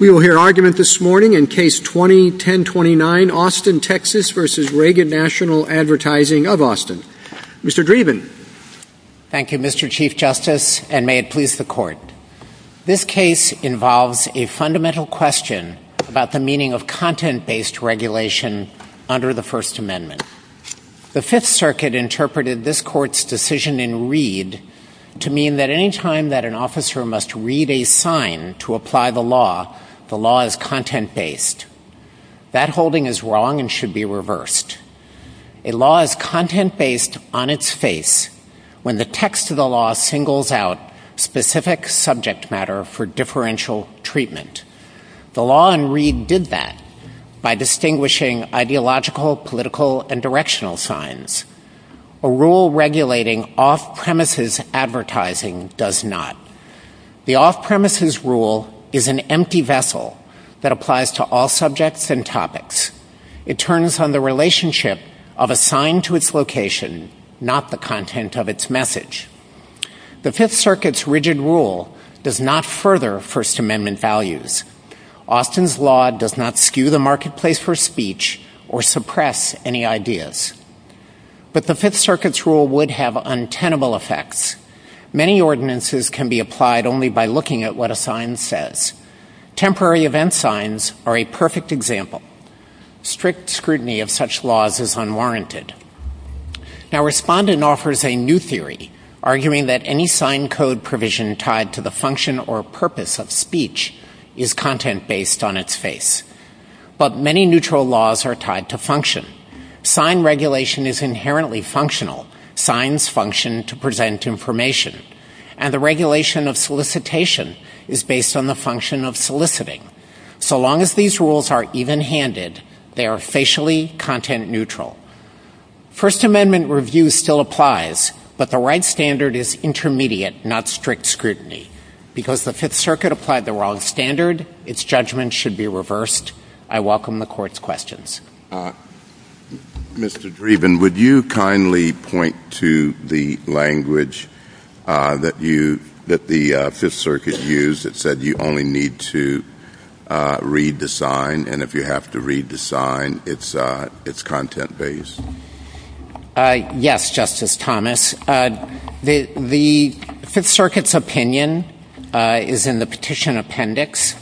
We will hear argument this morning in Case 20-1029, Austin, Texas, v. Reagan National Advertising of Austin. Mr. Dreeben. Thank you, Mr. Chief Justice, and may it please the Court. This case involves a fundamental question about the meaning of content-based regulation under the First Amendment. The Fifth Circuit interpreted this Court's decision in Reed to mean that any time that an officer must read a sign to apply the law, the law is content-based. That holding is wrong and should be reversed. A law is content-based on its face when the text of the law singles out specific subject matter for differential treatment. The law in Reed did that by distinguishing ideological, political, and directional signs, a rule regulating off-premises advertising does not. The off-premises rule is an empty vessel that applies to all subjects and topics. It turns on the relationship of a sign to its location, not the content of its message. The Fifth Circuit's rigid rule does not further First Amendment values. Austin's law does not skew the marketplace for speech or suppress any ideas. But the Fifth Circuit's law does not have any untenable effects. Many ordinances can be applied only by looking at what a sign says. Temporary event signs are a perfect example. Strict scrutiny of such laws is unwarranted. Now, Respondent offers a new theory, arguing that any sign code provision tied to the function or purpose of speech is content-based on its face. But many neutral laws are tied to function. Sign regulation is inherently functional. Signs function to present information. And the regulation of solicitation is based on the function of soliciting. So long as these rules are even-handed, they are facially content-neutral. First Amendment review still applies, but the right standard is intermediate, not strict scrutiny. Because the Fifth Circuit applied the wrong standard, its judgment should be reversed. I welcome the Court's questions. Mr. Dreeben, would you kindly point to the language that the Fifth Circuit used that said you only need to read the sign, and if you have to read the sign, it's content-based? Yes, Justice Thomas. The Fifth Circuit's opinion is in the petition appendix,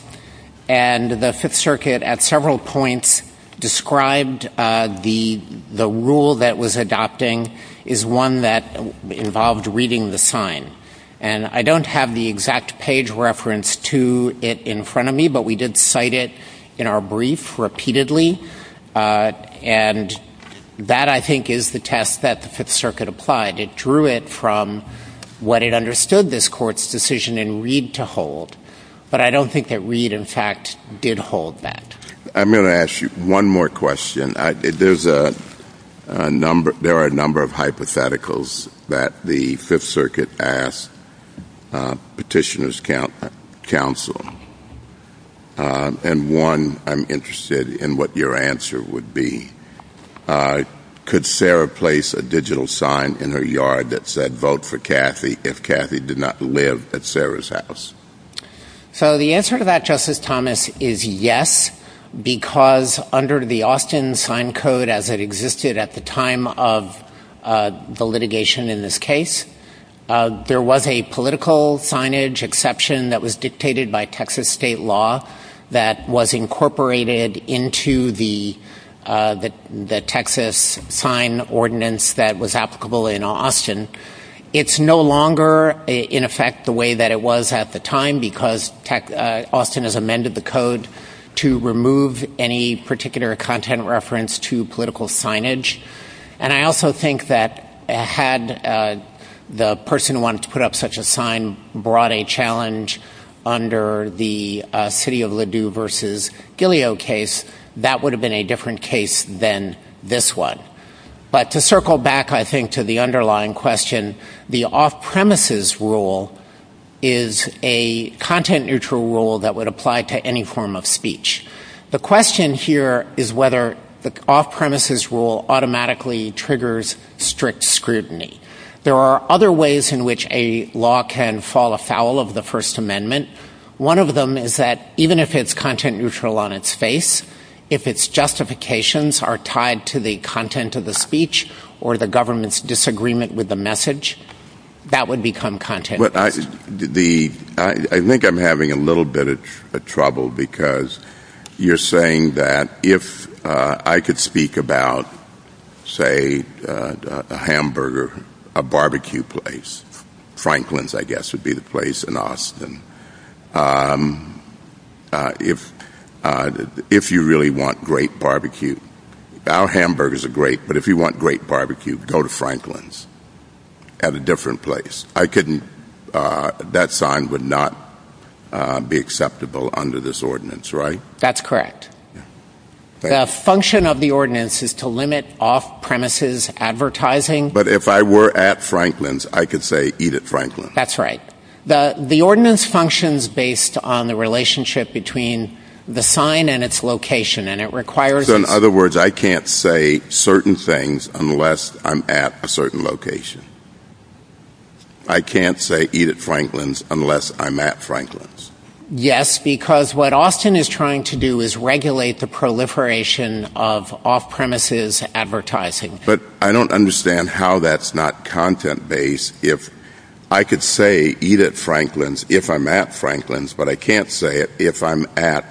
and the Fifth Circuit at several points described the rule that was adopting is one that involved reading the sign. And I don't have the exact page reference to it in front of me, but we cite it in our brief repeatedly. And that, I think, is the test that the Fifth Circuit applied. It drew it from what it understood this Court's decision in Reed to hold. But I don't think that Reed, in fact, did hold that. I'm going to ask you one more question. There are a number of hypotheticals that the Fifth Circuit asked petitioners' counsel, and one I'm interested in what your answer would be. Could Sarah place a digital sign in her yard that said, vote for Kathy if Kathy did not live at Sarah's house? So the answer to that, Justice Thomas, is yes, because under the Austin Sign Code, as it existed at the time of the litigation in this case, there was a political signage exception that was dictated by Texas state law that was incorporated into the Texas sign ordinance that was applicable in Austin. It's no longer, in effect, the way that it was at the time, because Austin has amended the code to remove any particular content reference to political signage. And I also think that, had the person who wanted to put up such a sign brought a challenge under the City of Ladue v. Gileo case, that would have been a different case than this one. But to circle back, I think, to the underlying question, the off-premises rule is a content-neutral rule that would apply to any form of speech. The question here is whether the off-premises rule automatically triggers strict scrutiny. There are other ways in which a law can fall afoul of the First Amendment. One of them is that, even if it's content-neutral on its face, if its justifications are tied to the content of the speech or the government's disagreement with the message, that would become content-neutral. I think I'm having a little bit of trouble because you're saying that if I could speak about, say, a hamburger, a barbecue place, Franklin's, I guess, would be the place in Austin. If you really want great barbecue, our hamburgers are great, but if you want great barbecue, go to Franklin's at a different place. That sign would not be acceptable under this ordinance, right? That's correct. The function of the ordinance is to limit off-premises advertising. But if I were at Franklin's, I could say, eat at Franklin's. That's right. The ordinance functions based on the relationship between the sign and its location. So, in other words, I can't say certain things unless I'm at a certain location. I can't say, eat at Franklin's, unless I'm at Franklin's. Yes, because what Austin is trying to do is regulate the proliferation of off-premises advertising. But I don't understand how that's not content-based if I could say, eat at Franklin's, if I'm at Franklin's, but I can't say it if I'm at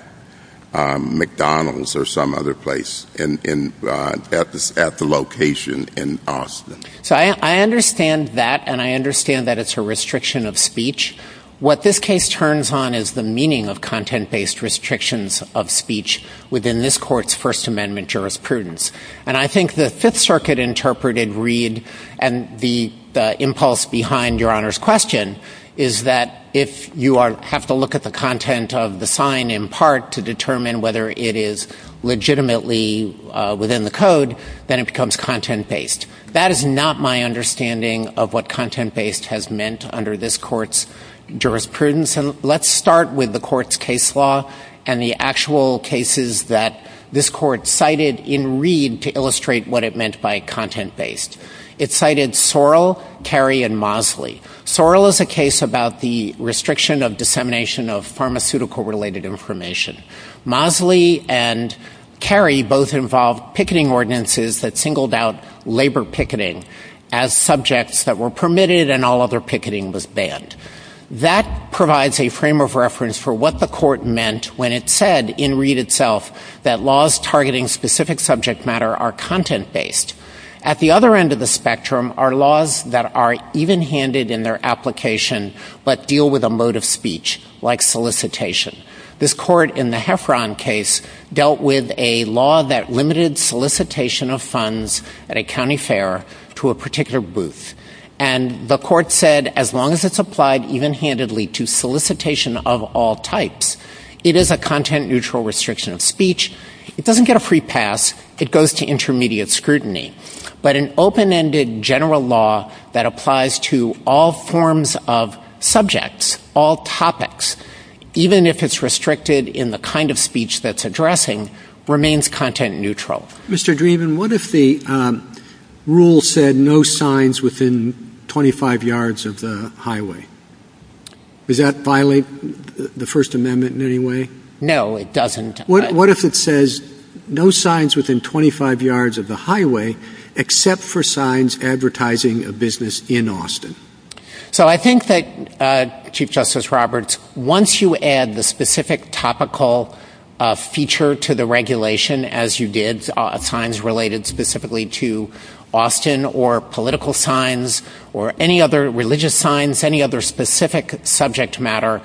McDonald's or some other place at the location in Austin. So, I understand that, and I understand that it's a restriction of speech. What this case turns on is the meaning of content-based restrictions of speech within this court's First Amendment jurisprudence. And I think the Fifth Circuit interpreted Reed and the impulse behind Your Honor's question is that if you have to look at the content of the sign in part to determine whether it is legitimately within the code, then it becomes content-based. That is not my understanding of what content-based has meant under this court's jurisprudence. Let's start with the court's case law and the actual cases that this court cited in Reed to illustrate what it meant by content-based. It cited Sorrell, Carey, and Mosley. Sorrell is a case about the restriction of dissemination of pharmaceutical-related information. Mosley and Carey both involved picketing ordinances that singled out labor picketing as subjects that were permitted and all other picketing was banned. That provides a frame of reference for what the court meant when it said in Reed itself that laws targeting specific subject matter are content-based. At the other end of the spectrum are laws that are even-handed in their application but deal with a mode of speech, like solicitation. This court in the Heffron case dealt with a law that limited solicitation of funds at a county fair to a particular booth. And the court said as long as it's applied even-handedly to solicitation of all types, it is a content-neutral restriction of speech. It doesn't get a free pass. It goes to intermediate scrutiny. But an open-ended general law that applies to all forms of subjects, all topics, even if it's restricted in the kind of speech that's addressing, remains content-neutral. Mr. Dreeben, what if the rule said no signs within 25 yards of the highway? Does that violate the First Amendment in any way? No, it doesn't. What if it says no signs within 25 yards of the highway except for signs advertising a business in Austin? So I think that, Chief Justice Roberts, once you add the specific topical feature to the regulation, as you did, signs related specifically to Austin or political signs or any other religious signs, any other specific subject matter,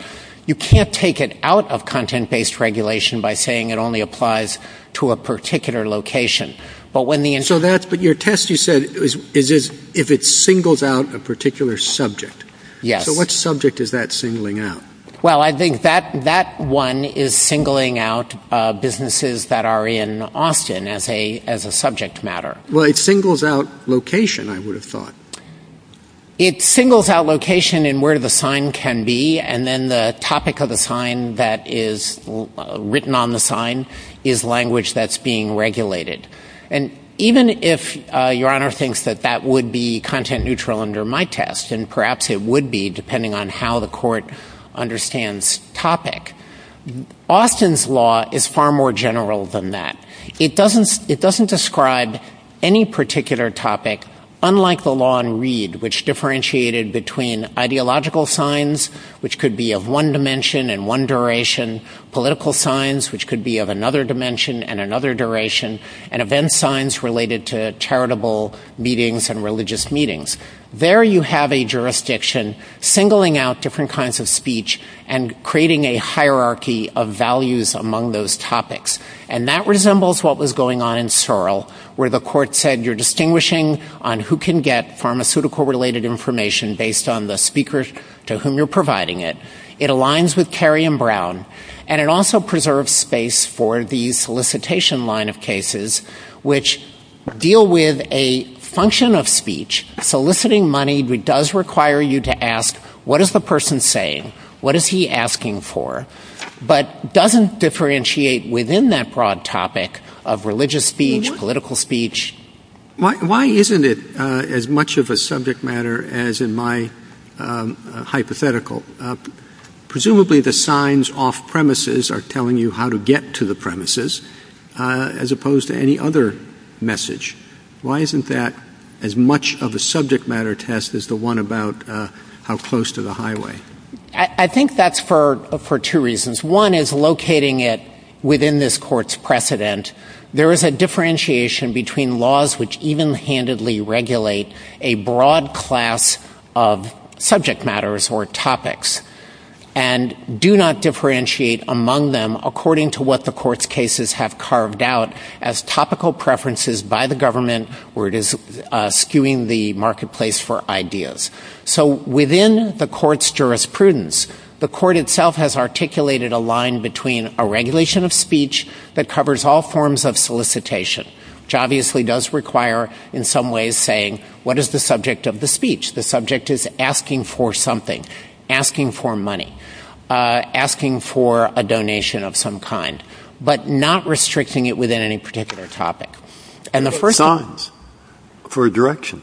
you can't take it out of content-based regulation by saying it only applies to a particular location. But your test, you said, is if it singles out a particular subject. Yes. So what subject is that singling out? Well, I think that one is singling out businesses that are in Austin as a subject matter. Well, it singles out location, I would have thought. It singles out location and where the sign can be, and then the topic of the sign that is written on the sign is language that's being regulated. And even if Your Honor thinks that that would be content-neutral under my test, and perhaps it would be depending on how the court understands topic, Austin's law is far more general than that. It doesn't describe any particular topic, unlike the law in Reed, which differentiated between ideological signs, which could be of one dimension and one duration, political signs, which could be of another dimension and another duration, and event signs related to charitable meetings and religious meetings. There you have a jurisdiction singling out different kinds of speech and creating a hierarchy of values among those topics. And that resembles what was going on in Searle, where the court said you're distinguishing on who can get pharmaceutical-related information based on the speakers to whom you're providing it. It aligns with Kerry and Brown, and it also preserves space for the solicitation line of money, which does require you to ask, what is the person saying? What is he asking for? But it doesn't differentiate within that broad topic of religious speech, political speech. Why isn't it as much of a subject matter as in my hypothetical? Presumably the signs off-premises are telling you how to get to the premises, as opposed to any other message. Why isn't that as much of a subject matter test as the one about how close to the highway? I think that's for two reasons. One is locating it within this court's precedent. There is a differentiation between laws which even-handedly regulate a broad class of subject matters or topics, and do not differentiate among them according to what the court's cases have carved out as topical preferences by the government where it is skewing the marketplace for ideas. So within the court's jurisprudence, the court itself has articulated a line between a regulation of speech that covers all forms of solicitation, which obviously does require, in some ways, saying, what is the subject of the speech? The subject is asking for something, asking for money, asking for a donation of some kind, but not restricting it within any particular topic. And the first- Signs for direction.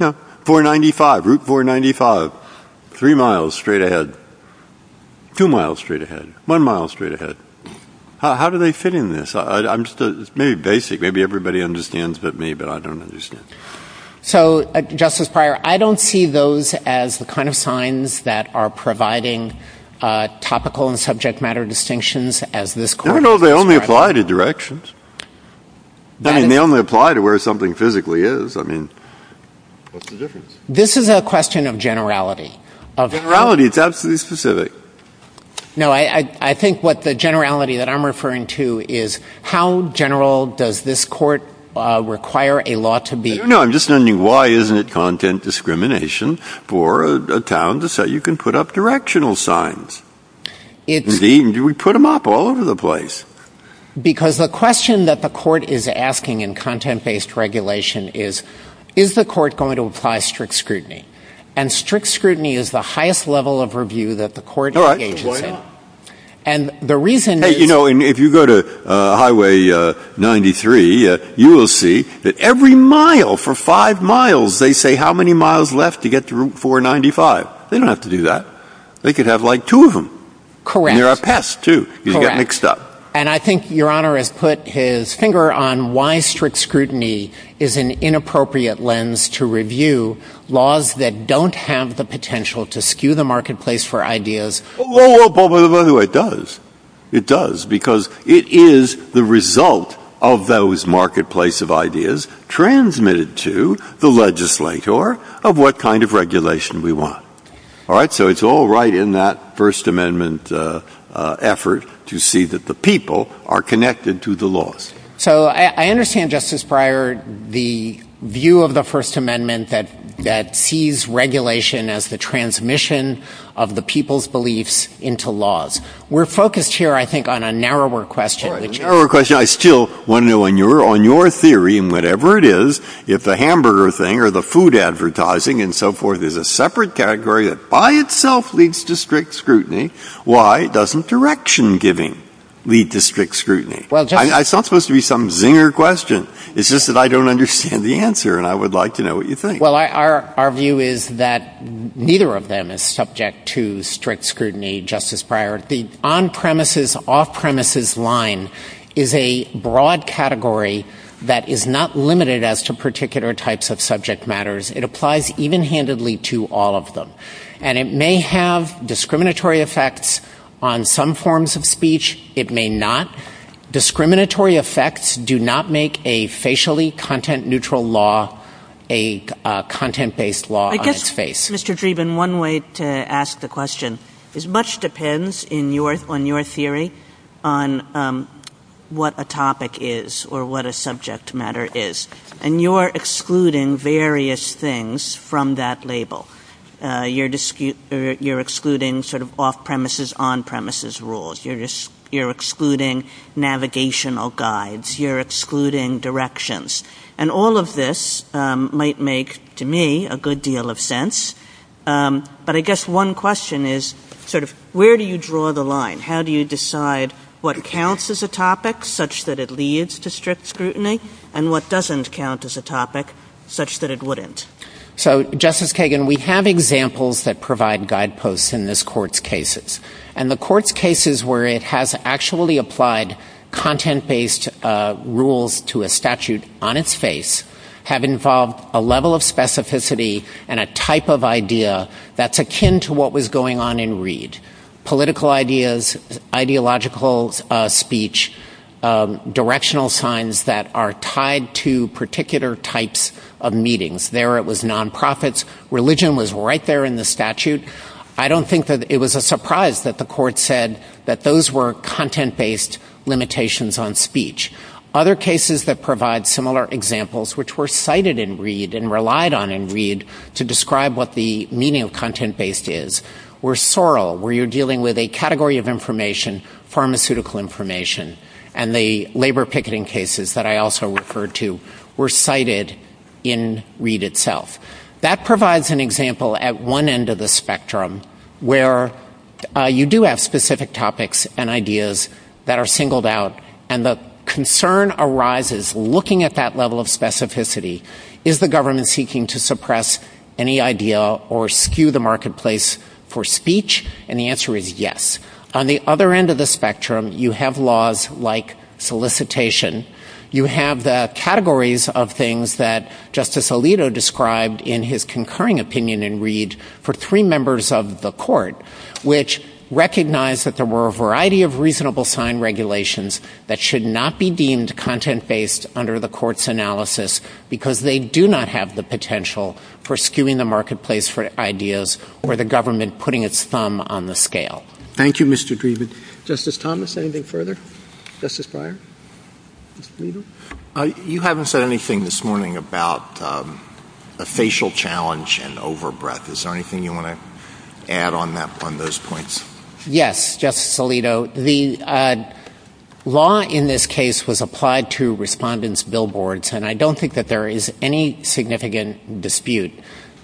No, 495, Route 495, three miles straight ahead, two miles straight ahead, one mile straight ahead. How do they fit in this? I'm just- maybe basic. Maybe everybody understands but me, but I don't understand. So, Justice Breyer, I don't see those as the kind of signs that are providing topical and subject matter distinctions as this court- No, no, they only apply to directions. I mean, they only apply to where something physically is. I mean, what's the difference? This is a question of generality. Of generality, it's absolutely specific. No, I think what the generality that I'm referring to is how general does this court require a law to be- No, no, I'm just wondering why isn't it content discrimination for a town to say you can put up directional signs? Indeed, we put them up all over the place. Because the question that the court is asking in content-based regulation is, is the court going to apply strict scrutiny? And strict scrutiny is the highest level of review that the court engages in. And the reason- Hey, you know, if you go to Highway 93, you will see that every mile, for five miles, they say, how many miles left to get to Route 495? They don't have to do that. They could have like two of them. Correct. And you're a pest, too. You get mixed up. And I think Your Honor has put his finger on why strict scrutiny is an inappropriate lens to review laws that don't have the potential to skew the marketplace for ideas. Well, by the way, it does. It does, because it is the result of those marketplace of ideas transmitted to the legislator of what kind of regulation we want. All right? So it's all right in that First Amendment effort to see that the people are connected to the laws. So I understand, Justice Breyer, the view of the First Amendment that sees regulation as the transmission of the people's beliefs into laws. We're focused here, I think, on a narrower question. I still want to know on your theory, and whatever it is, if the hamburger thing or the food advertising and so forth is a separate category that by itself leads to strict scrutiny, why doesn't direction giving lead to strict scrutiny? It's not supposed to be some zinger question. It's just that I don't understand the answer. And I would like to know what you think. Well, our view is that neither of them is subject to strict scrutiny, Justice Breyer. The on-premises, off-premises line is a broad category that is not limited as to particular types of subject matters. It applies even-handedly to all of them. And it may have discriminatory effects on some forms of speech. It may not. Discriminatory effects do not make a facially content-neutral law a content-based law. Mr. Dreeben, one way to ask the question is much depends on your theory on what a topic is or what a subject matter is. And you're excluding various things from that label. You're excluding sort of off-premises, on-premises rules. You're excluding navigational guides. You're excluding directions. And all of this might make, to me, a good deal of sense. But I guess one question is sort of where do you draw the line? How do you decide what counts as a topic, such that it leads to strict scrutiny, and what doesn't count as a topic, such that it wouldn't? So, Justice Kagan, we have examples that provide guideposts in this Court's cases. And the Court's cases where it has actually applied content-based rules to a statute on its face have involved a level of specificity and a type of idea that's akin to what was going on in Reed. Political ideas, ideological speech, directional signs that are tied to particular types of meetings. There, it was nonprofits. Religion was right there in the statute. I don't think that it was a surprise that the Court said that those were content-based limitations on speech. Other cases that provide similar examples, which were cited in Reed and relied on in Reed to describe what the meaning of content-based is, were Sorrel, where you're dealing with a category of information, pharmaceutical information. And the labor picketing cases that I also referred to were cited in Reed itself. That provides an example at one end of the spectrum where you do have specific topics and ideas that are singled out. And the concern arises, looking at that level of specificity, is the government seeking to suppress any idea or skew the marketplace for speech? And the answer is yes. On the other end of the spectrum, you have laws like solicitation. You have the categories of things that Justice Alito described in his concurring opinion in Reed for three members of the Court, which recognized that there were a variety of reasonable time regulations that should not be deemed content-based under the Court's analysis because they do not have the potential for skewing the marketplace for ideas or the government putting its thumb on the scale. Thank you, Mr. Dreeben. Justice Thomas, anything further? Justice Breyer? You haven't said anything this morning about a facial challenge and overbreath. Is there anything you want to add on those points? Yes, Justice Alito. The law in this case was applied to respondents' billboards, and I don't think that there is any significant dispute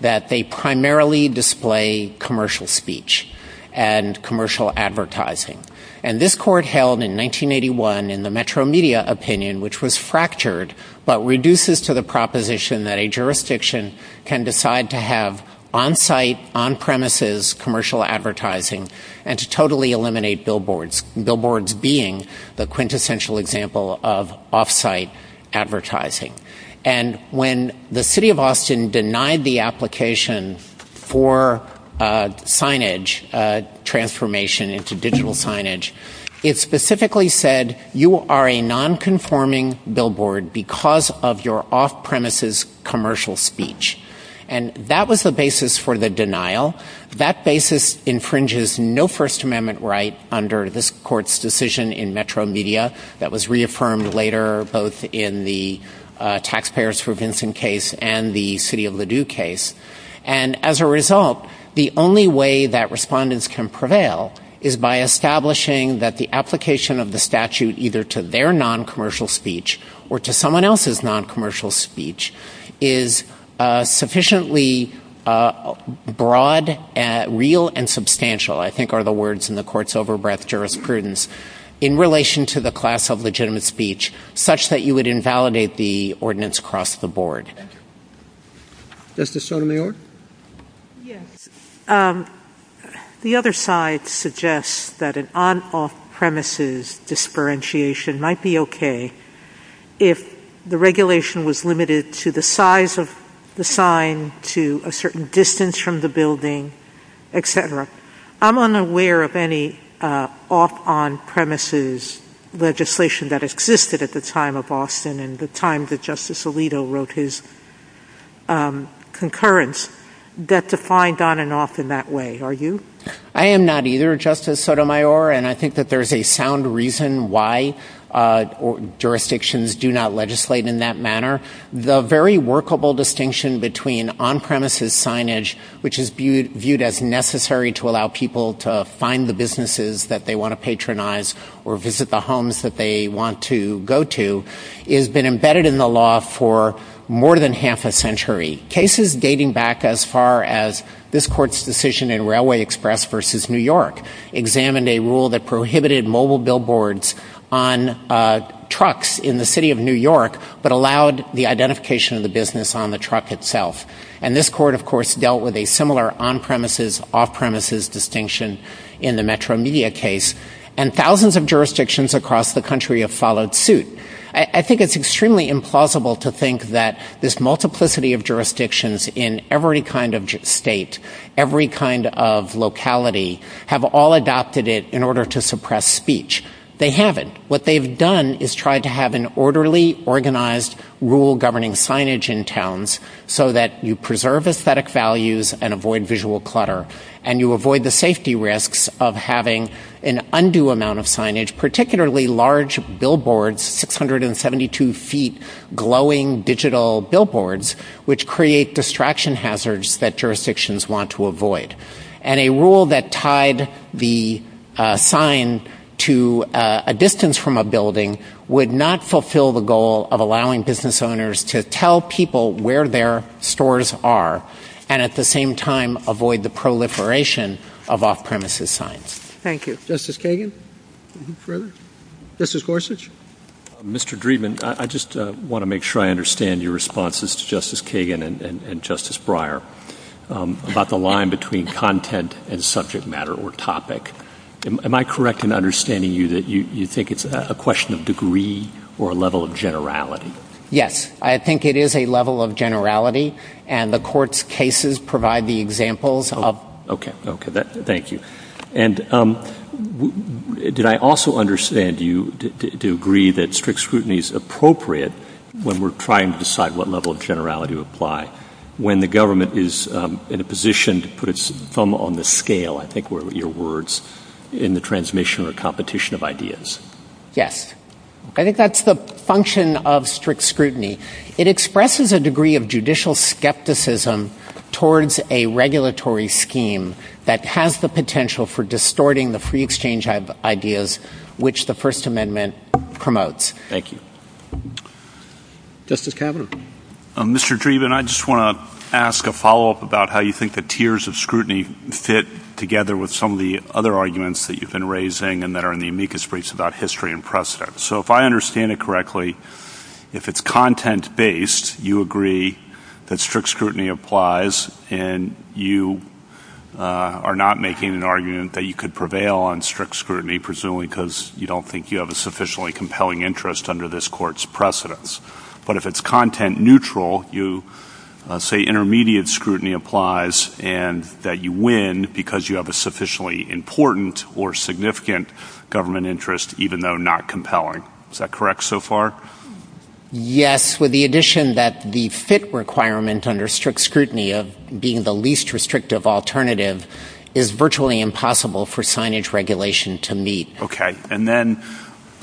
that they primarily display commercial speech and commercial advertising. And this Court held in 1981 in the Metro Media opinion, which was fractured, but reduces to the proposition that a jurisdiction can decide to have on-site, on-premises commercial advertising and to totally eliminate billboards, billboards being the quintessential example of off-site advertising. And when the city of Austin denied the application for signage transformation into digital signage, it specifically said, you are a nonconforming billboard because of your off-premises commercial speech. And that was the basis for the denial. That basis infringes no First Amendment right under this Court's decision in Metro Media that was reaffirmed later, both in the Taxpayers for Vincent case and the City of Ladue case. And as a result, the only way that respondents can prevail is by establishing that the application of the statute either to their noncommercial speech or to someone else's noncommercial speech is sufficiently broad, real, and substantial, I think are the words in the Court's overbreath jurisprudence, in relation to the class of legitimate speech, such that you would invalidate the ordinance across the board. Justice Sotomayor? Yes. The other side suggests that an on-off-premises disparentiation might be okay if the regulation was limited to the size of the sign, to a certain distance from the building, et cetera. I'm unaware of any off-on-premises legislation that existed at the time of Austin and the time that Justice Alito wrote his concurrence that defined on and off in that way. Are you? I am not either, Justice Sotomayor, and I think that there's a sound reason why jurisdictions do not legislate in that manner. The very workable distinction between on-premises signage, which is viewed as necessary to allow people to find the businesses that they want to patronize or visit the homes that they want to go to, has been embedded in the law for more than half a century. Cases dating back as far as this Court's decision in Railway Express v. New York examined a rule that prohibited mobile billboards on trucks in the city of New York, but allowed the identification of the business on the truck itself. And this Court, of course, dealt with a similar on-premises, off-premises distinction in the suit. I think it's extremely implausible to think that this multiplicity of jurisdictions in every kind of state, every kind of locality, have all adopted it in order to suppress speech. They haven't. What they've done is tried to have an orderly, organized, rule-governing signage in towns so that you preserve aesthetic values and avoid visual clutter, and you avoid the safety risks of having an undue amount of signage, particularly large billboards, 672-feet glowing digital billboards, which create distraction hazards that jurisdictions want to avoid. And a rule that tied the sign to a distance from a building would not fulfill the goal of allowing business owners to tell people where their stores are, and at the same time of off-premises signs. Thank you. Justice Kagan? Justice Gorsuch? Mr. Dreeben, I just want to make sure I understand your responses to Justice Kagan and Justice Breyer about the line between content and subject matter or topic. Am I correct in understanding you that you think it's a question of degree or a level of generality? Yes, I think it is a level of generality, and the Court's cases provide the examples Okay, okay, thank you. And did I also understand you to agree that strict scrutiny is appropriate when we're trying to decide what level of generality to apply, when the government is in a position to put its thumb on the scale, I think were your words, in the transmission or competition of ideas? Yes, I think that's the function of strict scrutiny. It expresses a degree of judicial skepticism towards a regulatory scheme that has the potential for distorting the free exchange ideas which the First Amendment promotes. Thank you. Justice Kavanaugh? Mr. Dreeben, I just want to ask a follow-up about how you think the tiers of scrutiny fit together with some of the other arguments that you've been raising and that are in the amicus briefs about history and precedent. So if I understand it correctly, if it's content-based, you agree that strict scrutiny applies and you are not making an argument that you could prevail on strict scrutiny, presumably because you don't think you have a sufficiently compelling interest under this Court's precedence. But if it's content-neutral, you say intermediate scrutiny applies and that you win because you have a sufficiently important or significant government interest, even though not compelling. Is that correct so far? Yes, with the addition that the fit requirement under strict scrutiny of being the least restrictive alternative is virtually impossible for signage regulation to meet. Okay. And then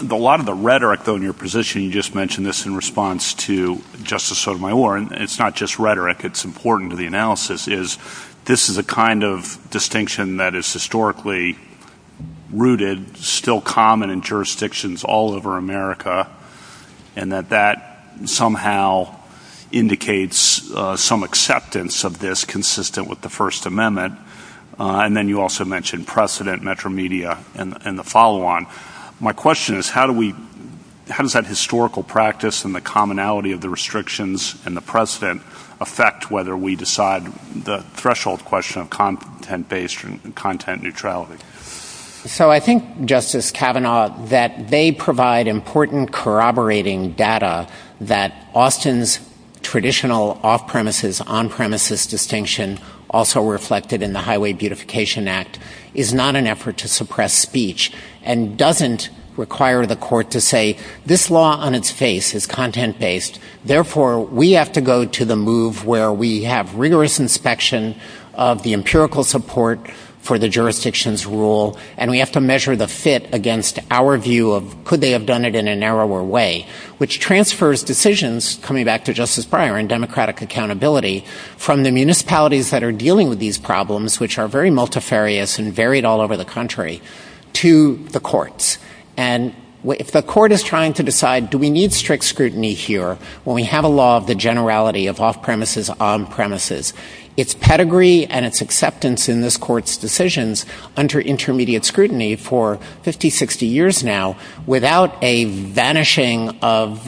a lot of the rhetoric, though, in your position, you just mentioned this in response to Justice Sotomayor, and it's not just rhetoric, it's important to the that is historically rooted, still common in jurisdictions all over America, and that that somehow indicates some acceptance of this consistent with the First Amendment. And then you also mentioned precedent, metro media, and the follow-on. My question is, how does that historical practice and the commonality of the restrictions and the precedent affect whether we decide the threshold question of content-based and content neutrality? So I think, Justice Kavanaugh, that they provide important corroborating data that Austin's traditional off-premises, on-premises distinction, also reflected in the Highway Beautification Act, is not an effort to suppress speech and doesn't require the Court to say, this law on its face is content-based. Therefore, we have to go to the move where we have rigorous inspection of the empirical support for the jurisdiction's rule, and we have to measure the fit against our view of could they have done it in a narrower way, which transfers decisions, coming back to Justice Breyer and democratic accountability, from the municipalities that are dealing with these problems, which are very multifarious and varied all over the country, to the courts. And if the Court is trying to decide, do we need strict scrutiny here when we have a law of the generality of off-premises, on-premises, its pedigree and its acceptance in this Court's decisions under intermediate scrutiny for 50, 60 years now, without a vanishing of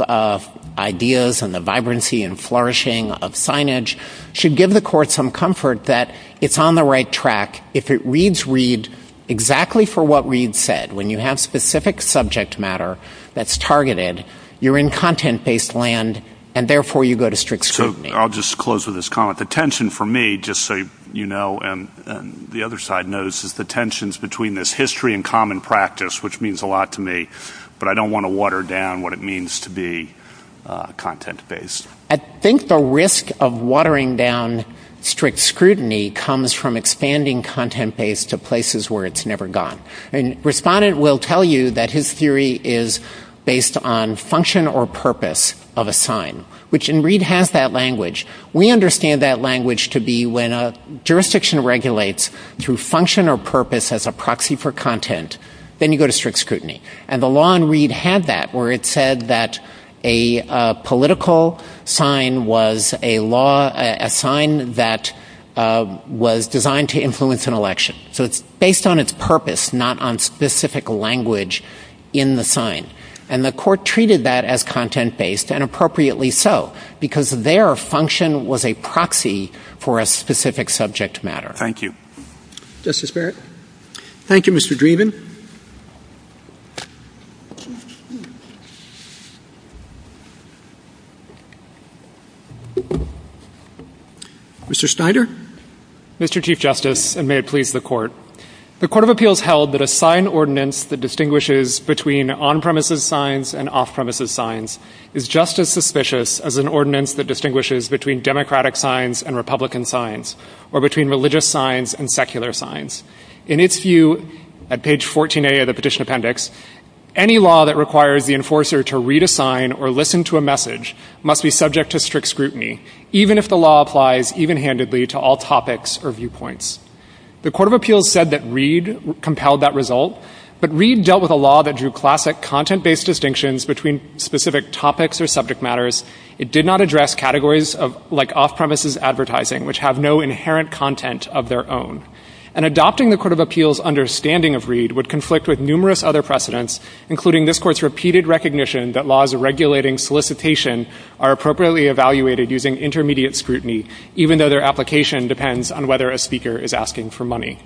ideas and the vibrancy and flourishing of signage, should give the Court some comfort that it's on the right track. If it reads Reed exactly for what Reed said, when you have specific subject matter that's targeted, you're in content-based land, and therefore you go to strict scrutiny. I'll just close with this comment. The tension for me, just so you know, and the other side knows, is the tensions between this history and common practice, which means a lot to me, but I don't want to water down what it means to be content-based. I think the risk of watering down strict scrutiny comes from expanding content-based to places where it's never gone. And a respondent will tell you that his theory is based on function or purpose of a sign, which in Reed has that language. We understand that language to be when a jurisdiction regulates through function or purpose as a proxy for content, then you go to strict scrutiny. And the law in Reed had that, where it said that a political sign was a sign that was designed to influence an election. So it's based on its purpose, not on specific language in the sign. And the Court treated that as content-based, and appropriately so, because their function was a proxy for a specific subject matter. Thank you. Justice Barrett? Thank you, Mr. Dreeben. Mr. Schneider? Mr. Chief Justice, and may it please the Court. The Court of Appeals held that a signed ordinance that distinguishes between on-premises signs and off-premises signs is just as suspicious as an ordinance that distinguishes between Democratic signs and Republican signs, or between religious signs and secular signs. In its view, at page 14a of the Petition Appendix, any law that requires the enforcer to read a sign or listen to a message must be subject to strict scrutiny, even if the law applies even-handedly to all topics or viewpoints. The Court of Appeals said that Reed compelled that result, but Reed dealt with a law that drew classic content-based distinctions between specific topics or subject matters. It did not address categories like off-premises advertising, which have no inherent content of their own. And adopting the Court of Appeals' understanding of Reed would conflict with numerous other precedents, including this Court's repeated recognition that laws regulating solicitation are appropriately evaluated using intermediate scrutiny, even though their application depends on whether a speaker is asking for money.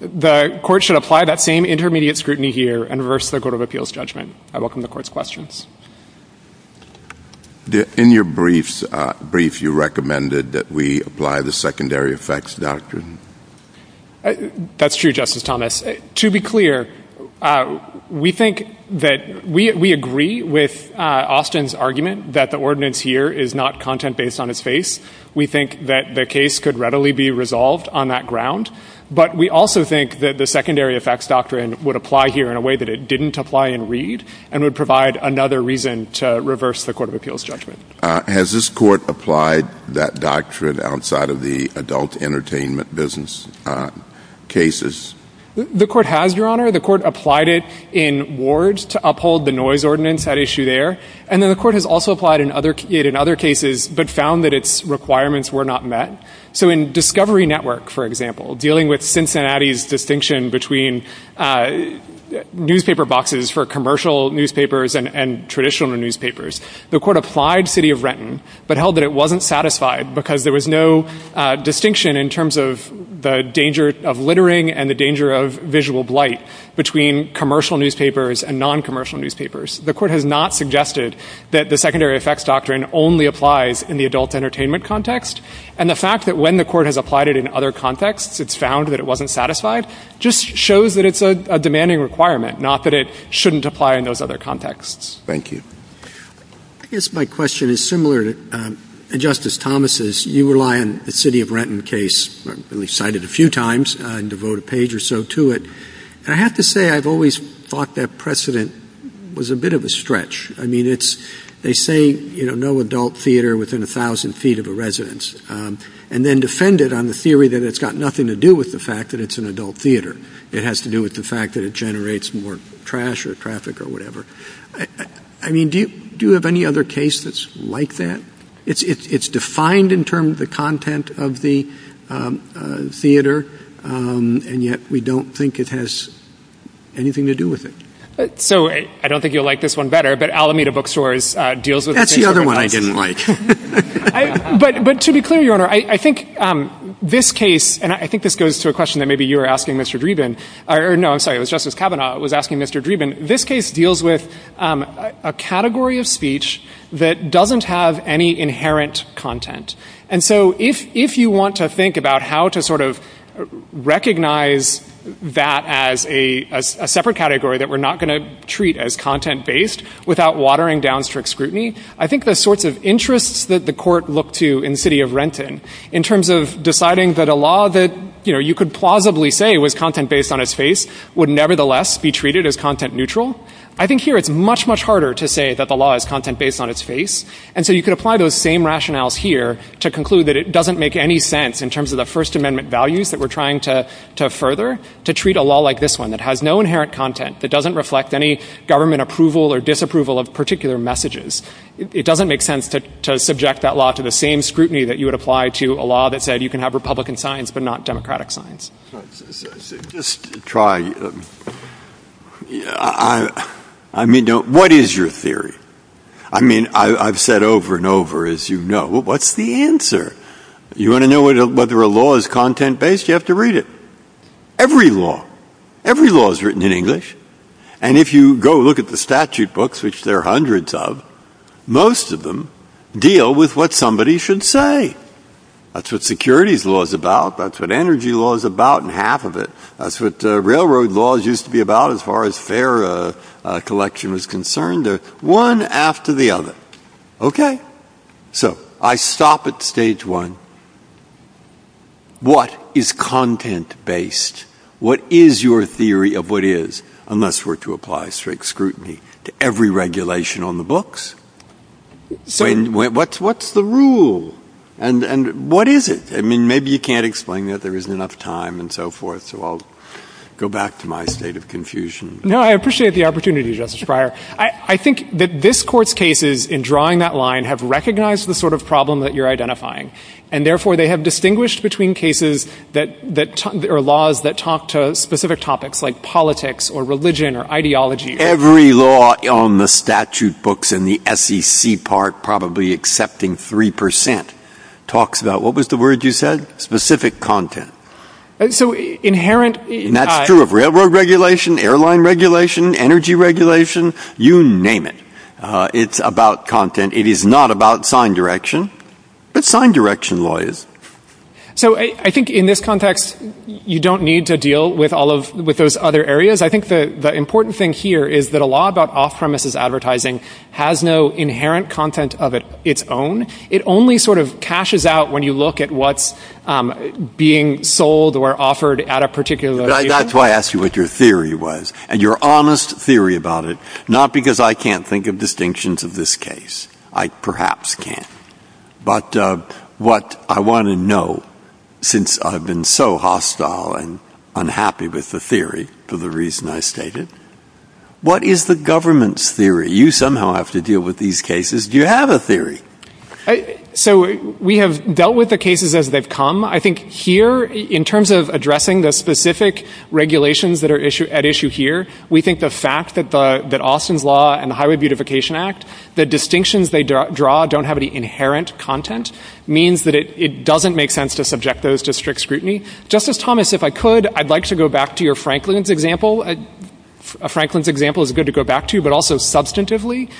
The Court should apply that same intermediate scrutiny here and reverse the Court of Appeals judgment. I welcome the Court's questions. In your brief, you recommended that we apply the Secondary Effects Doctrine. That's true, Justice Thomas. To be clear, we think that we agree with Austin's argument that the ordinance here is not content based on its face. We think that the case could readily be resolved on that ground. But we also think that the Secondary Effects Doctrine would apply here in a way that it reverses the Court of Appeals' judgment. Has this Court applied that doctrine outside of the adult entertainment business cases? The Court has, Your Honor. The Court applied it in wards to uphold the noise ordinance at issue there. And then the Court has also applied it in other cases but found that its requirements were not met. So in Discovery Network, for example, dealing with Cincinnati's distinction between newspaper and traditional newspapers, the Court applied City of Renton but held that it wasn't satisfied because there was no distinction in terms of the danger of littering and the danger of visual blight between commercial newspapers and non-commercial newspapers. The Court has not suggested that the Secondary Effects Doctrine only applies in the adult entertainment context. And the fact that when the Court has applied it in other contexts, it's found that it wasn't satisfied just shows that it's a demanding requirement, not that it shouldn't apply in those other contexts. Thank you. I guess my question is similar to Justice Thomas's. You rely on the City of Renton case. We've cited it a few times and devote a page or so to it. And I have to say I've always thought that precedent was a bit of a stretch. I mean, they say no adult theater within 1,000 feet of a residence and then defend it on the theory that it's got nothing to do with the fact that it's an adult theater. It has to do with the fact that it generates more trash or traffic or whatever. I mean, do you have any other case that's like that? It's defined in terms of the content of the theater, and yet we don't think it has anything to do with it. So I don't think you'll like this one better, but Alameda Bookstores deals with the same thing I didn't like. But to be clear, Your Honor, I think this case, and I think this goes to a question that maybe you were asking Mr. Dreeben, or no, I'm sorry, it was Justice Kavanaugh was a category of speech that doesn't have any inherent content. And so if you want to think about how to sort of recognize that as a separate category that we're not going to treat as content-based without watering down strict scrutiny, I think the sorts of interests that the court looked to in the city of Renton in terms of deciding that a law that you could plausibly say was content-based on its face would nevertheless be treated as content-neutral. I think here it's much, much harder to say that the law is content-based on its face. And so you could apply those same rationales here to conclude that it doesn't make any sense in terms of the First Amendment values that we're trying to further to treat a law like this one that has no inherent content, that doesn't reflect any government approval or disapproval of particular messages. It doesn't make sense to subject that law to the same scrutiny that you would apply to a law that said you can have Republican signs but not Democratic signs. I mean, what is your theory? I mean, I've said over and over, as you know, what's the answer? You want to know whether a law is content-based? You have to read it. Every law, every law is written in English. And if you go look at the statute books, which there are hundreds of, most of them deal with what somebody should say. That's what securities law is about. That's what energy law is about, and half of it. That's what railroad laws used to be about as far as fair collection was concerned. They're one after the other. Okay? So I stop at stage one. What is content-based? What is your theory of what is, unless we're to apply strict scrutiny to every regulation on the books? What's the rule? And what is it? I mean, maybe you can't explain that. There isn't enough time and so forth. So I'll go back to my state of confusion. No, I appreciate the opportunity, Justice Breyer. I think that this Court's cases in drawing that line have recognized the sort of problem that you're identifying. And therefore, they have distinguished between cases that are laws that talk to specific topics like politics or religion or ideology. Every law on the statute books in the SEC part, probably accepting 3%, talks about what was the word you said? Specific content. So inherent— That's true of railroad regulation, airline regulation, energy regulation. You name it. It's about content. It is not about sign direction. It's sign direction, lawyers. So I think in this context, you don't need to deal with all of those other areas. I think the important thing here is that a law about off-premises advertising has no inherent content of its own. It only sort of caches out when you look at what's being sold or offered at a particular— That's why I asked you what your theory was and your honest theory about it, not because I can't think of distinctions of this case. I perhaps can't. But what I want to know, since I've been so hostile and unhappy with the theory for the reason I stated, what is the government's theory? You somehow have to deal with these cases. Do you have a theory? So we have dealt with the cases as they've come. I think here, in terms of addressing the specific regulations that are at issue here, we think the fact that Austin's law and the Highway Beautification Act, the distinctions they draw don't have any inherent content means that it doesn't make sense to subject those to strict scrutiny. Justice Thomas, if I could, I'd like to go back to your Franklin's example. A Franklin's example is good to go back to, but also substantively.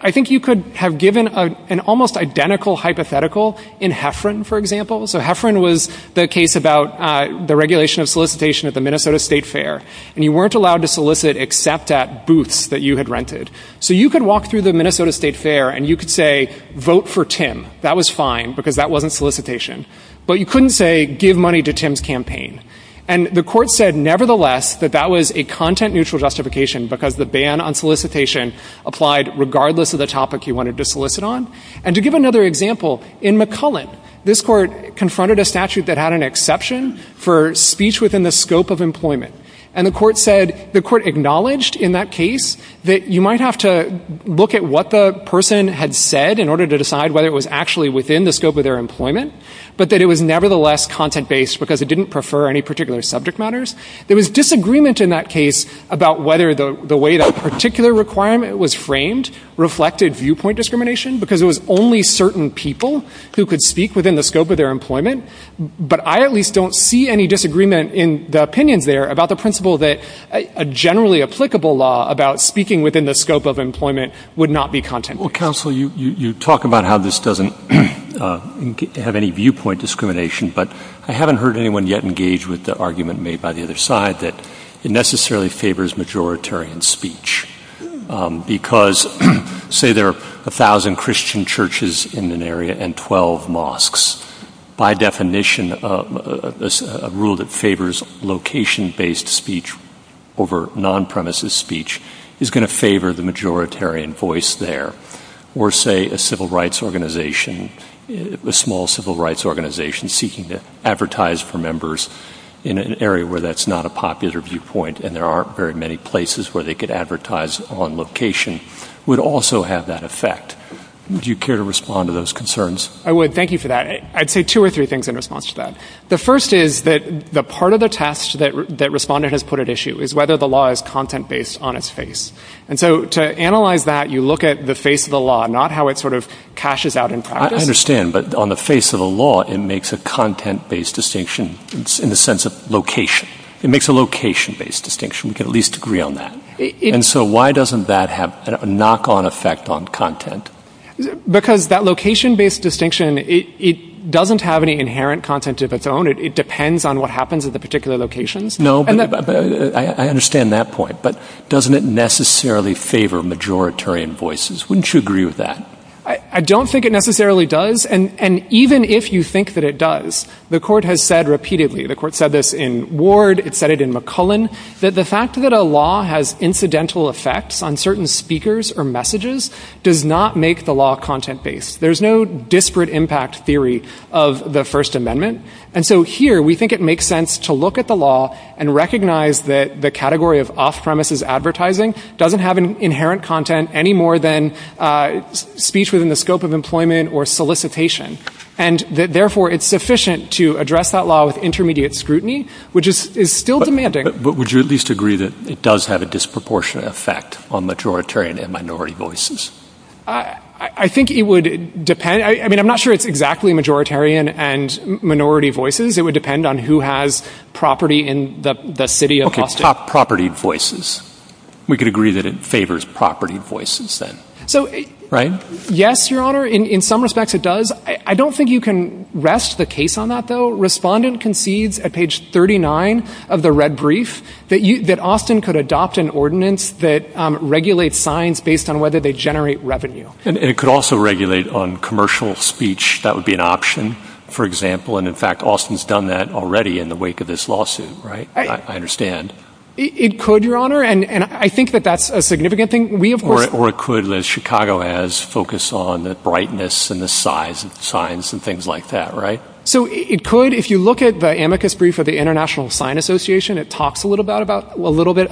I think you could have given an almost identical hypothetical in Hefferon, for example. So Hefferon was the case about the regulation of solicitation at the Minnesota State Fair, and you weren't allowed to solicit except at booths that you had rented. So you could walk through the Minnesota State Fair and you could say, vote for Tim. That was fine, because that wasn't solicitation. But you couldn't say, give money to Tim's campaign. And the court said, nevertheless, that that was a content-neutral justification because the ban on solicitation applied regardless of the topic you wanted to solicit on. And to give another example, in McCullen, this court confronted a statute that had an exception for speech within the scope of employment. And the court said, the court acknowledged in that case that you might have to look at what the person had said in order to decide whether it was actually within the scope of their employment, but that it was nevertheless content-based because it didn't prefer any particular subject matters. There was disagreement in that case about whether the way that particular requirement was framed reflected viewpoint discrimination because it was only certain people who could speak within the scope of their employment. But I at least don't see any disagreement in the opinions there about the principle that a generally applicable law about speaking within the scope of employment would not be content-based. Counsel, you talk about how this doesn't have any viewpoint discrimination, but I haven't heard anyone yet engage with the argument made by the other side that it necessarily favors majoritarian speech because, say, there are 1,000 Christian churches in an area and 12 mosques. By definition, a rule that favors location-based speech over non-premises speech is going to favor the majoritarian voice there. Or, say, a small civil rights organization seeking to advertise for members in an area where that's not a popular viewpoint and there aren't very many places where they could advertise on location would also have that effect. Would you care to respond to those concerns? I would. Thank you for that. I'd say two or three things in response to that. The first is that the part of the test that Respondent has put at issue is whether the law is content-based on its face. And so to analyze that, you look at the face of the law, not how it sort of cashes out in practice. I understand, but on the face of the law, it makes a content-based distinction in the sense of location. It makes a location-based distinction. We could at least agree on that. And so why doesn't that have a knock-on effect on content? Because that location-based distinction, it doesn't have any inherent content of its own. It depends on what happens at the particular locations. No, but I understand that point. But doesn't it necessarily favor majoritarian voices? Wouldn't you agree with that? I don't think it necessarily does. And even if you think that it does, the court has said repeatedly, the court said this in Ward, it said it in McCullen, that the fact that a law has incidental effects on certain speakers or messages does not make the law content-based. There's no disparate impact theory of the First Amendment. And so here we think it makes sense to look at the law and recognize that the category of off-premises advertising doesn't have an inherent content any more than speech within the scope of employment or solicitation. And therefore, it's sufficient to address that law with intermediate scrutiny, which is still demanding. But would you at least agree that it does have a disproportionate effect on majoritarian and minority voices? I think it would depend. I mean, I'm not sure it's exactly majoritarian and minority voices. It would depend on who has property in the city of Austin. Property voices. We could agree that it favors property voices then, right? Yes, Your Honor. In some respects, it does. I don't think you can rest the case on that, though. Respondent concedes at page 39 of the red brief that Austin could adopt an ordinance that regulates signs based on whether they generate revenue. And it could also regulate on commercial speech. That would be an option, for example. And in fact, Austin's done that already in the wake of this lawsuit, right? I understand. It could, Your Honor. And I think that that's a significant thing. Or it could, as Chicago has, focus on the brightness and the size of signs and things like that, right? So it could. If you look at the amicus brief of the International Sign Association, it talks a little bit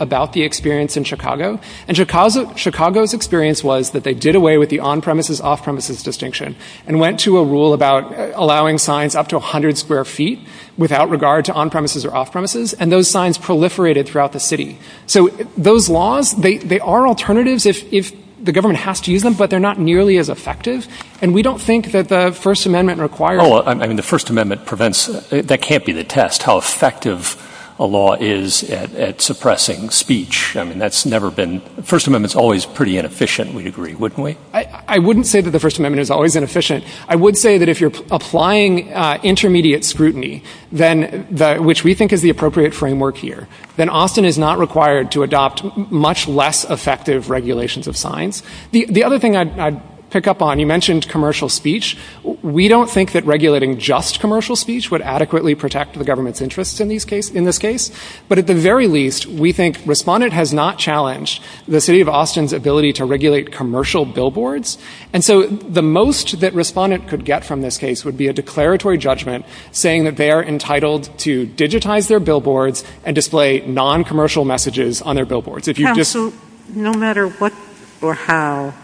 about the experience in Chicago. And Chicago's experience was that they did away with the on-premises, off-premises distinction and went to a rule about allowing signs up to 100 square feet without regard to on-premises or off-premises. And those signs proliferated throughout the city. So those laws, they are alternatives if the government has to use them, but they're not nearly as effective. And we don't think that the First Amendment requires— Oh, I mean, the First Amendment prevents—that can't be the test, how effective a law is at suppressing speech. I mean, that's never been—the First Amendment's always pretty inefficient, we'd agree, wouldn't we? I wouldn't say that the First Amendment is always inefficient. I would say that if you're applying intermediate scrutiny, then which we think is the appropriate framework here, then Austin is not required to adopt much less effective regulations of signs. The other thing I'd pick up on, you mentioned commercial speech. We don't think that regulating just commercial speech would adequately protect the government's interests in this case. But at the very least, we think Respondent has not challenged the city of Austin's ability to regulate commercial billboards. And so the most that Respondent could get from this case would be a declaratory judgment saying that they are entitled to digitize their billboards and display non-commercial messages on their billboards. Now, so no matter what or how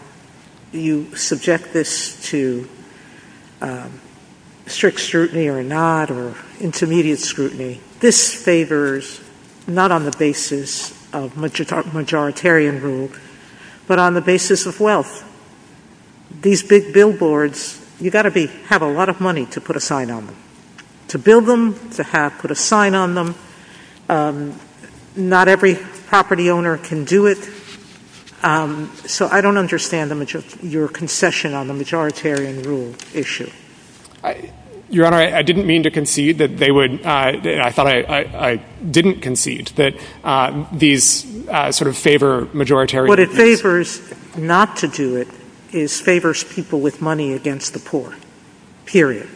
you subject this to strict scrutiny or not or intermediate scrutiny, this favors not on the basis of majoritarian rule but on the basis of wealth. These big billboards, you've got to have a lot of money to put a sign on them. To build them, to have put a sign on them. Not every property owner can do it. So I don't understand your concession on the majoritarian rule issue. Your Honor, I didn't mean to concede that they would – I thought I didn't concede that these sort of favor majoritarian – What it favors not to do it is favors people with money against the poor, period.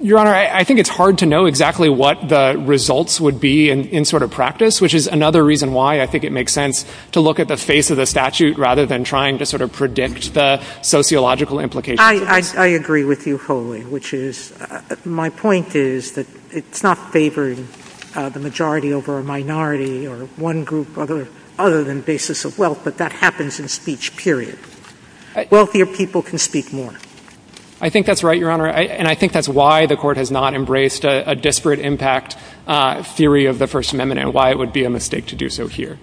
Your Honor, I think it's hard to know exactly what the results would be in sort of practice, which is another reason why I think it makes sense to look at the face of the statute rather than trying to sort of predict the sociological implications. I agree with you wholly, which is – my point is that it's not favoring the majority over a minority or one group other than the basis of wealth, but that happens in speech, period. Wealthier people can speak more. I think that's right, Your Honor. And I think that's why the Court has not embraced a disparate impact theory of the First Amendment and why it would be a mistake to do so here.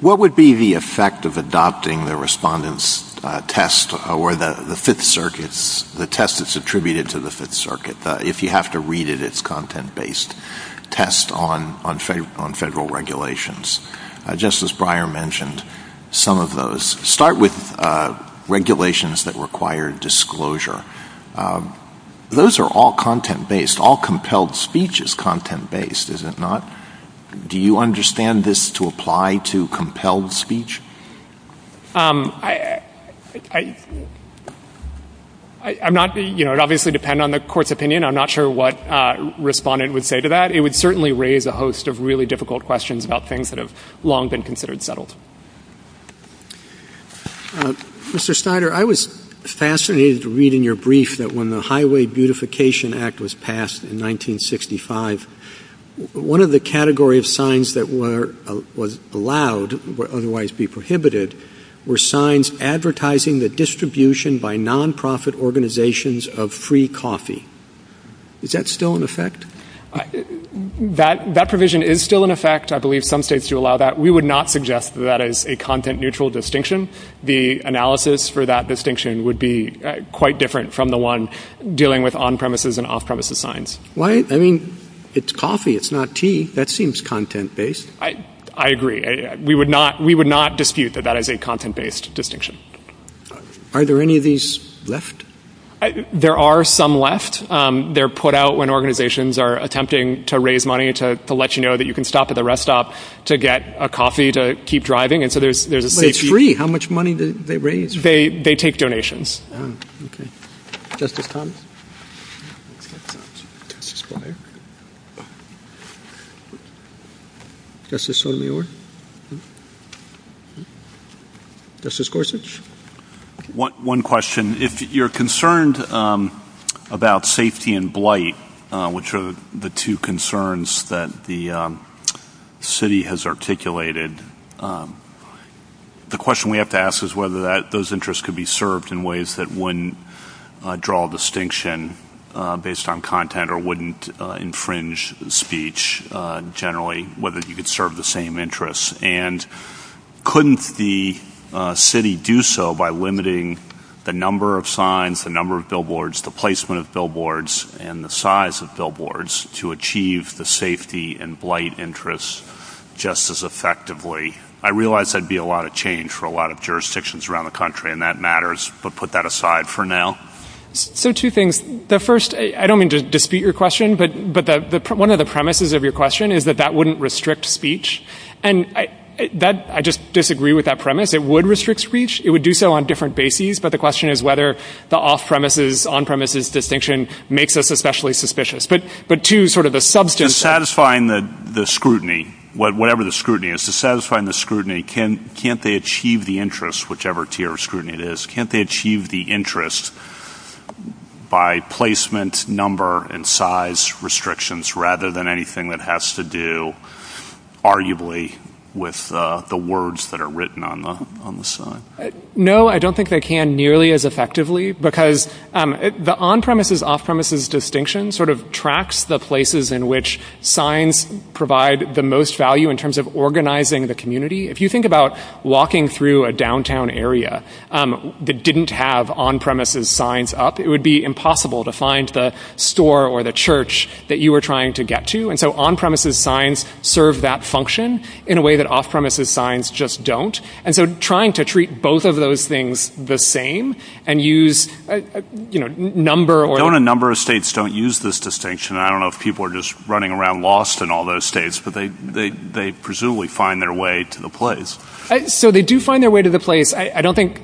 What would be the effect of adopting the Respondent's test or the Fifth Circuit's – the test that's attributed to the Fifth Circuit? If you have to read it, it's a content-based test on federal regulations. Justice Breyer mentioned some of those. Start with regulations that require disclosure. Those are all content-based. All compelled speech is content-based, is it not? Do you understand this to apply to compelled speech? I'm not – you know, it would obviously depend on the Court's opinion. I'm not sure what Respondent would say to that. It would certainly raise a host of really difficult questions about things that have long been considered settled. Mr. Snyder, I was fascinated reading your brief that when the Highway Beautification Act was passed in 1965, one of the category of signs that were – was allowed, would otherwise be prohibited, were signs advertising the distribution by non-profit organizations of free coffee. Is that still in effect? That provision is still in effect. I believe some states do allow that. We would not suggest that as a content-neutral distinction. The analysis for that distinction would be quite different from the one dealing with on-premises and off-premises signs. Why – I mean, it's coffee, it's not tea. That seems content-based. I agree. We would not – we would not dispute that that is a content-based distinction. Are there any of these left? There are some left. They're put out when organizations are attempting to raise money to let you know that you can stop at the rest stop to get a coffee to keep driving. And so there's a safety – But it's free. How much money do they raise? They take donations. Oh, okay. Just a comment. Justice Sotomayor? Justice Gorsuch? One question. If you're concerned about safety and blight, which are the two concerns that the city has articulated, the question we have to ask is whether those interests could be served in ways that wouldn't draw a distinction based on content or wouldn't infringe speech generally, whether you could serve the same interests. And couldn't the city do so by limiting the number of signs, the number of billboards, the placement of billboards, and the size of billboards to achieve the safety and blight interests just as effectively? I realize that'd be a lot of change for a lot of jurisdictions around the country, and that matters, but put that aside for now. So two things. The first – I don't mean to dispute your question, but one of the premises of your question is that that wouldn't restrict speech. And I just disagree with that premise. It would restrict speech. It would do so on different bases, but the question is whether the off-premises, on-premises distinction makes us especially suspicious. But two, sort of the substance – Satisfying the scrutiny, whatever the scrutiny is, satisfying the scrutiny, can't they achieve the interest, whichever tier of scrutiny it is, can't they achieve the interest by placement, number, and size restrictions rather than anything that has to do arguably with the words that are written on the sign? No, I don't think they can nearly as effectively because the on-premises, off-premises distinction sort of tracks the places in which signs provide the most value in terms of organizing the community. If you think about walking through a downtown area that didn't have on-premises signs up, it would be impossible to find the store or the church that you were trying to get to. And so on-premises signs serve that function in a way that off-premises signs just don't. And so trying to treat both of those things the same and use, you know, number or – Don't a number of states don't use this distinction? I don't know if people are just running around lost in all those states, but they presumably find their way to the place. So they do find their way to the place. I don't think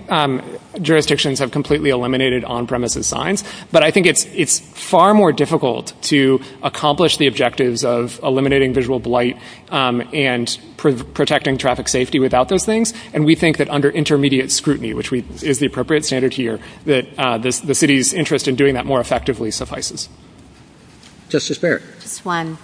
jurisdictions have completely eliminated on-premises signs, but I think it's far more difficult to accomplish the objectives of eliminating visual blight and protecting traffic safety without those things. And we think that under intermediate scrutiny, which is the appropriate standard here, that the city's interest in doing that more effectively suffices. Justice Barrett? Just one.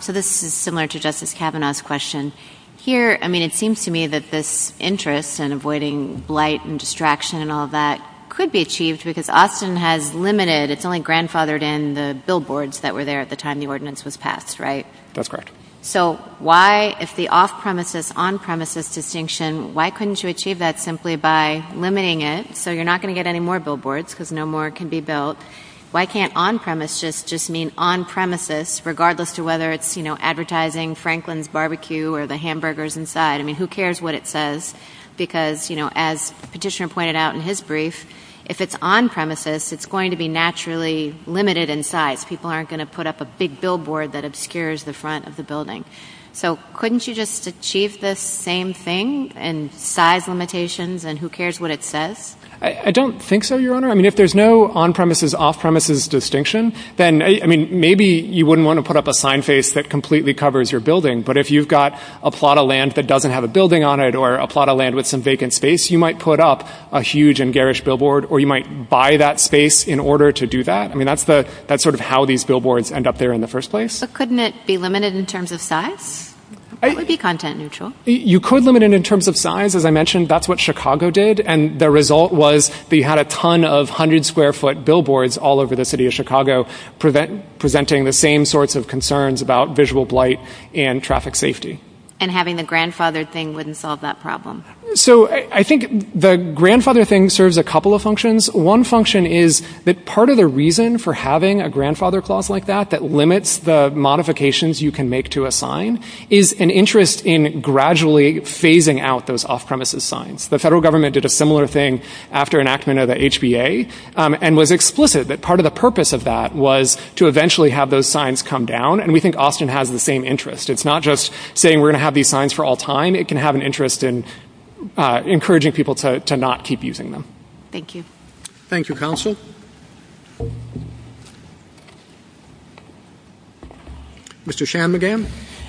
So this is similar to Justice Kavanaugh's question. Here, I mean, it seems to me that this interest in avoiding blight and distraction and all that could be achieved because Austin has limited – it's only grandfathered in the billboards that were there at the time the ordinance was passed, right? That's correct. So why – if the off-premises, on-premises distinction, why couldn't you achieve that simply by limiting it so you're not going to get any more billboards because no more can be built? Why can't on-premises just mean on-premises regardless of whether it's, you know, advertising Franklin's barbecue or the hamburgers inside? I mean, who cares what it says because, you know, as the petitioner pointed out in his brief, if it's on-premises, it's going to be naturally limited in size. People aren't going to put up a big billboard that obscures the front of the building. So couldn't you just achieve the same thing in size limitations and who cares what it says? I don't think so, Your Honor. I mean, if there's no on-premises, off-premises distinction, then, I mean, maybe you wouldn't want to put up a sign face that completely covers your building. But if you've got a plot of land that doesn't have a building on it or a plot of land with some vacant space, you might put up a huge and garish billboard or you might buy that space in order to do that. I mean, that's sort of how these billboards end up there in the first place. But couldn't it be limited in terms of size? That would be content neutral. You could limit it in terms of size. As I mentioned, that's what Chicago did. And the result was that you had a ton of 100-square-foot billboards all over the city of And having the grandfathered thing wouldn't solve that problem? So I think the grandfathered thing serves a couple of functions. One function is that part of the reason for having a grandfather clause like that that limits the modifications you can make to a sign is an interest in gradually phasing out those off-premises signs. The federal government did a similar thing after enactment of the HBA and was explicit that part of the purpose of that was to eventually have those signs come down. And we think Austin has the same interest. It's not just saying we're going to have these signs for all time. It can have an interest in encouraging people to not keep using them. Thank you. Thank you, counsel. Mr. Shanmugam?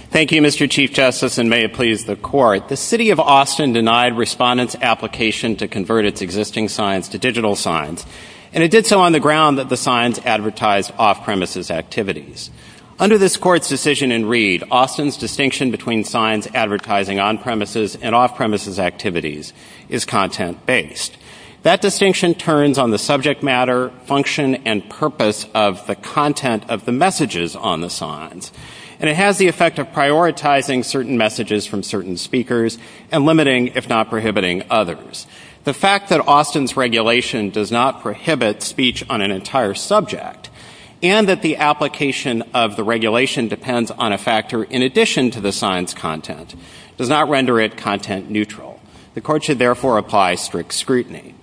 Thank you, Mr. Chief Justice, and may it please the court. The city of Austin denied respondents' application to convert its existing signs to digital signs. And it did so on the ground that the signs advertised off-premises activities. Under this court's decision in Reed, Austin's distinction between signs advertising on-premises and off-premises activities is content-based. That distinction turns on the subject matter, function, and purpose of the content of the messages on the signs. And it has the effect of prioritizing certain messages from certain speakers and limiting, if not prohibiting, others. The fact that Austin's regulation does not prohibit speech on an entire subject and that the application of the regulation depends on a factor in addition to the signs' content does not render it content-neutral. The court should therefore apply strict scrutiny.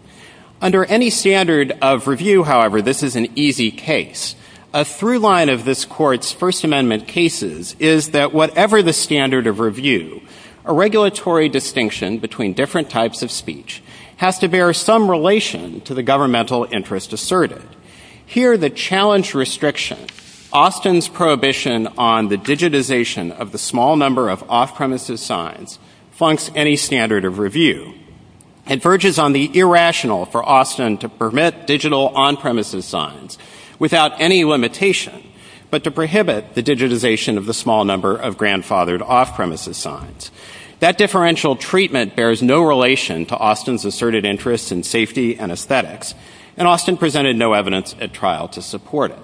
Under any standard of review, however, this is an easy case. A through-line of this court's First Amendment cases is that whatever the standard of review, a regulatory distinction between different types of speech has to bear some relation to the governmental interest asserted. Here, the challenge restriction, Austin's prohibition on the digitization of the small number of off-premises signs flunks any standard of review and verges on the irrational for Austin to permit digital on-premises signs without any limitation, but to prohibit the digitization of the small number of grandfathered off-premises signs. That differential treatment bears no relation to Austin's asserted interest in safety and trial to support it.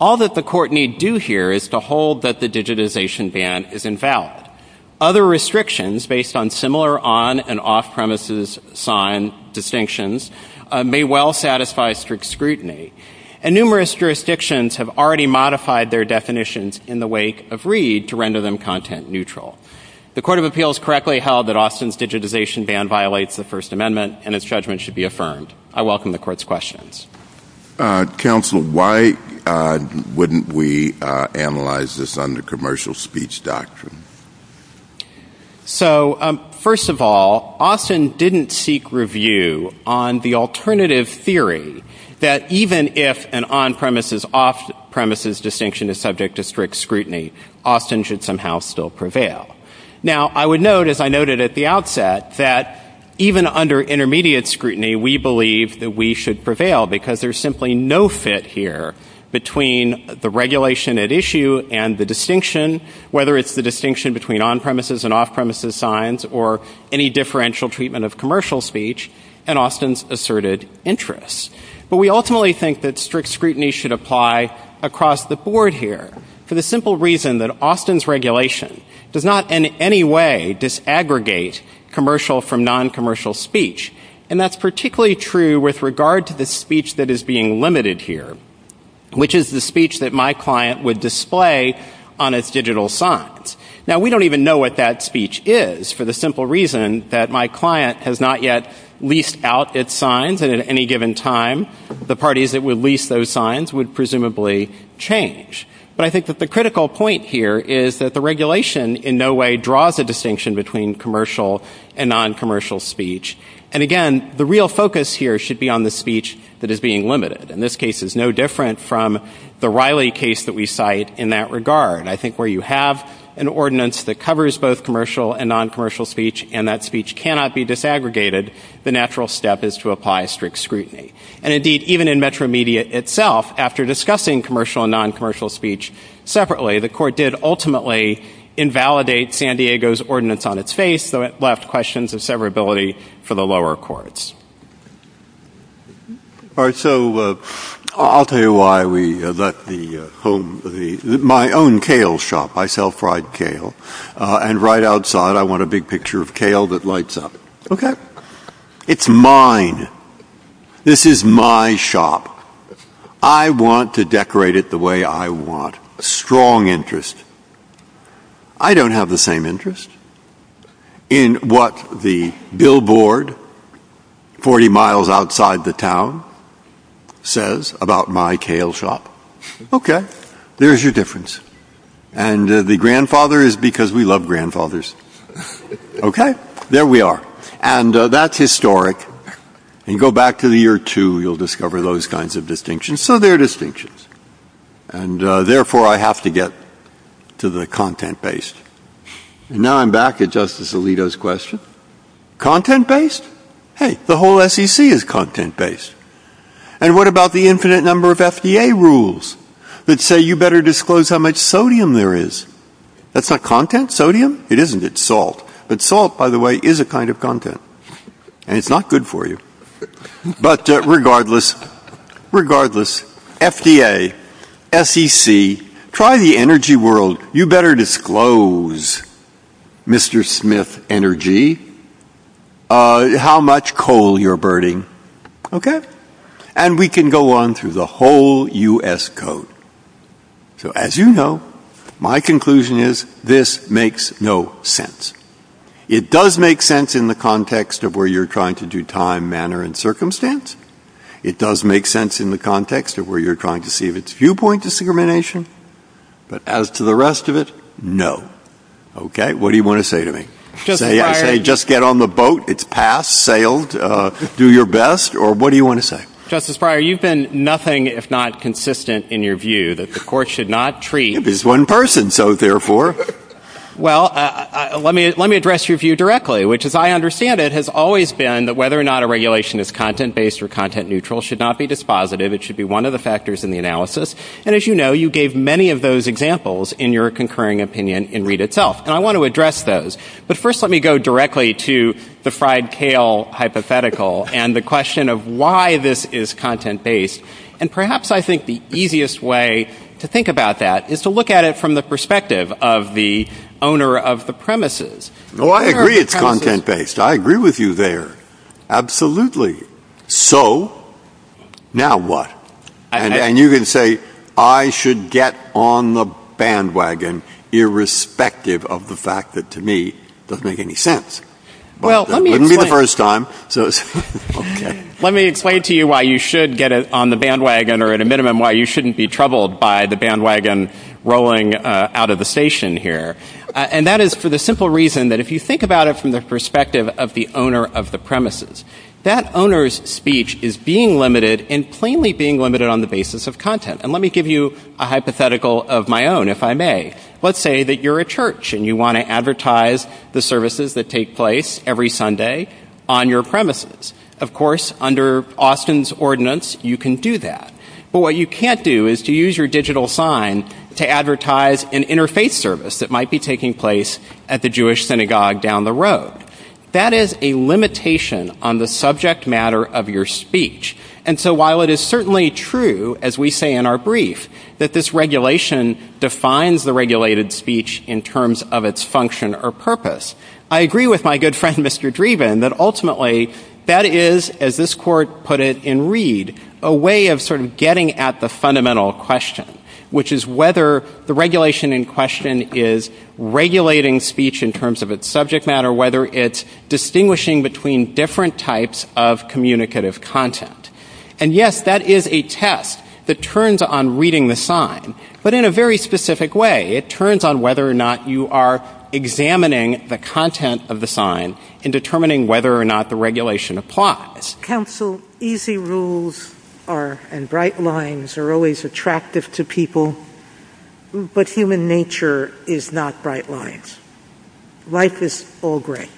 All that the court need do here is to hold that the digitization ban is invalid. Other restrictions based on similar on- and off-premises sign distinctions may well satisfy strict scrutiny, and numerous jurisdictions have already modified their definitions in the wake of Reed to render them content-neutral. The Court of Appeals correctly held that Austin's digitization ban violates the First Amendment and its judgment should be affirmed. I welcome the Court's questions. Uh, Counsel, why, uh, wouldn't we, uh, analyze this under commercial speech doctrine? So, um, first of all, Austin didn't seek review on the alternative theory that even if an on-premises-off-premises distinction is subject to strict scrutiny, Austin should somehow still prevail. Now, I would note, as I noted at the outset, that even under intermediate scrutiny, we believe that we should prevail because there's simply no fit here between the regulation at issue and the distinction, whether it's the distinction between on-premises and off-premises signs or any differential treatment of commercial speech, and Austin's asserted interest. But we ultimately think that strict scrutiny should apply across the board here for the simple reason that Austin's regulation does not in any way disaggregate commercial from with regard to the speech that is being limited here, which is the speech that my client would display on its digital signs. Now, we don't even know what that speech is for the simple reason that my client has not yet leased out its signs, and at any given time, the parties that would lease those signs would presumably change. But I think that the critical point here is that the regulation in no way draws a distinction between commercial and non-commercial speech. And again, the real focus here should be on the speech that is being limited. And this case is no different from the Riley case that we cite in that regard. I think where you have an ordinance that covers both commercial and non-commercial speech and that speech cannot be disaggregated, the natural step is to apply strict scrutiny. And indeed, even in Metro Media itself, after discussing commercial and non-commercial speech separately, the court did ultimately invalidate San Diego's ordinance on its face. So it left questions of severability for the lower courts. All right, so I'll tell you why we let the home, my own kale shop. I sell fried kale. And right outside, I want a big picture of kale that lights up, okay? It's mine. This is my shop. I want to decorate it the way I want, a strong interest. I don't have the same interest in what the billboard 40 miles outside the town says about my kale shop. Okay, there's your difference. And the grandfather is because we love grandfathers, okay? There we are. And that's historic. You go back to the year two, you'll discover those kinds of distinctions. So there are distinctions. And therefore, I have to get to the content-based. Now I'm back at Justice Alito's question. Content-based? Hey, the whole SEC is content-based. And what about the infinite number of FDA rules that say you better disclose how much sodium there is? That's not content. Sodium? It isn't. It's salt. But salt, by the way, is a kind of content. And it's not good for you. But regardless, FDA, SEC, try the energy world. You better disclose, Mr. Smith Energy, how much coal you're burning, okay? And we can go on through the whole U.S. Code. So as you know, my conclusion is this makes no sense. It does make sense in the context of where you're trying to do time, manner, and circumstance. It does make sense in the context of where you're trying to see if it's viewpoint discrimination. But as to the rest of it, no. Okay? What do you want to say to me? I say just get on the boat. It's passed, sailed. Do your best. Or what do you want to say? Justice Breyer, you've been nothing if not consistent in your view that the court should not treat— It's one person. So therefore— Well, let me address your view directly, which, as I understand it, has always been that whether or not a regulation is content-based or content-neutral should not be dispositive. It should be one of the factors in the analysis. And as you know, you gave many of those examples in your concurring opinion in Reed itself. And I want to address those. But first, let me go directly to the fried kale hypothetical and the question of why this is content-based. And perhaps I think the easiest way to think about that is to look at it from the perspective of the owner of the premises. No, I agree it's content-based. I agree with you there. Absolutely. So now what? And you can say I should get on the bandwagon irrespective of the fact that, to me, doesn't make any sense. Well, let me— It wouldn't be the first time. Let me explain to you why you should get on the bandwagon or, at a minimum, why you shouldn't be troubled by the bandwagon rolling out of the station here. And that is for the simple reason that if you think about it from the perspective of the owner of the premises, that owner's speech is being limited and plainly being limited on the basis of content. And let me give you a hypothetical of my own, if I may. Let's say that you're a church and you want to advertise the services that take place every Sunday on your premises. Of course, under Austin's ordinance, you can do that. But what you can't do is to use your digital sign to advertise an interfaith service that might be taking place at the Jewish synagogue down the road. That is a limitation on the subject matter of your speech. And so while it is certainly true, as we say in our brief, that this regulation defines the regulated speech in terms of its function or purpose, I agree with my good friend Mr. Driven that ultimately that is, as this court put it in Reed, a way of sort of getting at the fundamental question, which is whether the regulation in question is regulating speech in terms of its subject matter, whether it's distinguishing between different types of communicative content. And yes, that is a test that turns on reading the sign. But in a very specific way, it turns on whether or not you are examining the content of the sign, determining whether or not the regulation applies. Counsel, easy rules and bright lines are always attractive to people, but human nature is not bright lines. Life is all gray.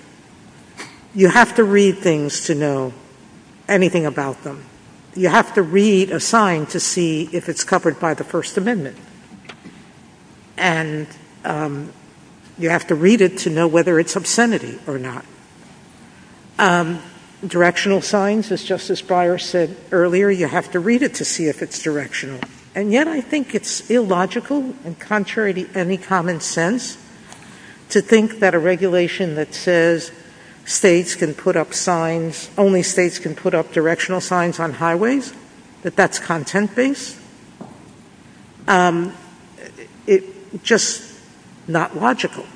You have to read things to know anything about them. You have to read a sign to see if it's covered by the First Amendment. And you have to read it to know whether it's obscenity or not. Directional signs, as Justice Breyer said earlier, you have to read it to see if it's directional. And yet I think it's illogical and contrary to any common sense to think that a regulation that says states can put up signs, only states can put up directional signs on highways, that that's content-based. It's just not logical.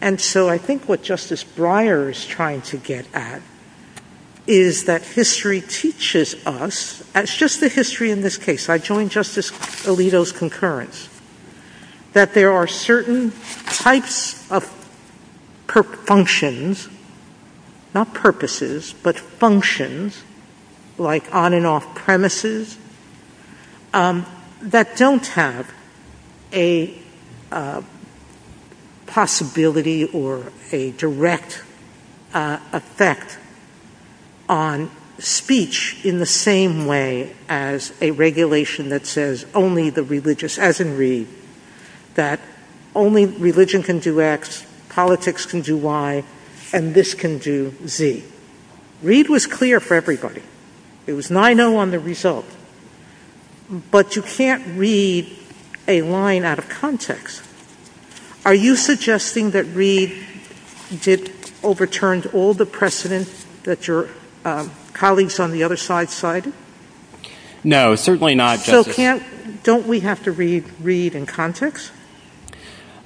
And so I think what Justice Breyer is trying to get at is that history teaches us, it's just the history in this case. I joined Justice Alito's concurrence, that there are certain types of functions, not or a direct effect on speech in the same way as a regulation that says only the religious, as in Reed, that only religion can do X, politics can do Y, and this can do Z. Reed was clear for everybody. It was 9-0 on the result. But you can't read a line out of context. Are you suggesting that Reed overturned all the precedents that your colleagues on the other side cited? No, certainly not, Justice. So don't we have to read Reed in context?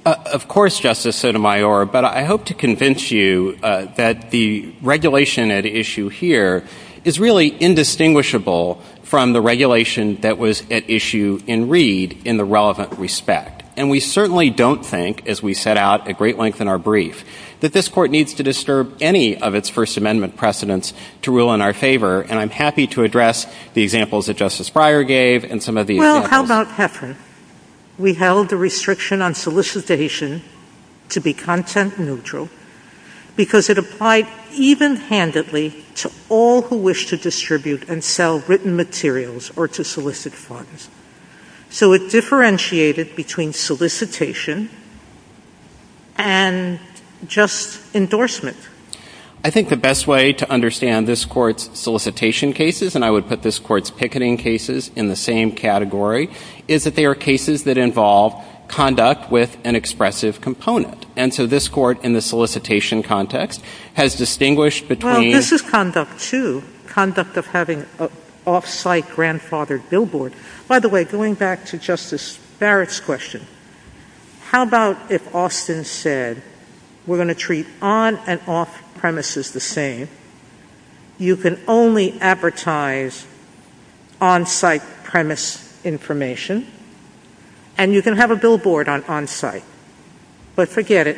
Of course, Justice Sotomayor, but I hope to convince you that the regulation at issue here is really indistinguishable from the regulation that was at issue in Reed in the relevant respect. And we certainly don't think, as we set out at great length in our brief, that this court needs to disturb any of its First Amendment precedents to rule in our favor. And I'm happy to address the examples that Justice Breyer gave and some of the— Well, how about Heffern? We held the restriction on solicitation to be content neutral because it applied even handedly to all who wish to distribute and sell written materials or to solicit funds. So it differentiated between solicitation and just endorsement. I think the best way to understand this court's solicitation cases, and I would put this court's picketing cases in the same category, is that they are cases that involve conduct with an expressive component. And so this court, in the solicitation context, has distinguished between— Well, this is conduct, too, conduct of having an off-site grandfathered billboard. By the way, going back to Justice Barak's question, how about if Austin said, we're going to treat on- and off-premises the same? You can only advertise on-site premise information, and you can have a billboard on on-site. But forget it.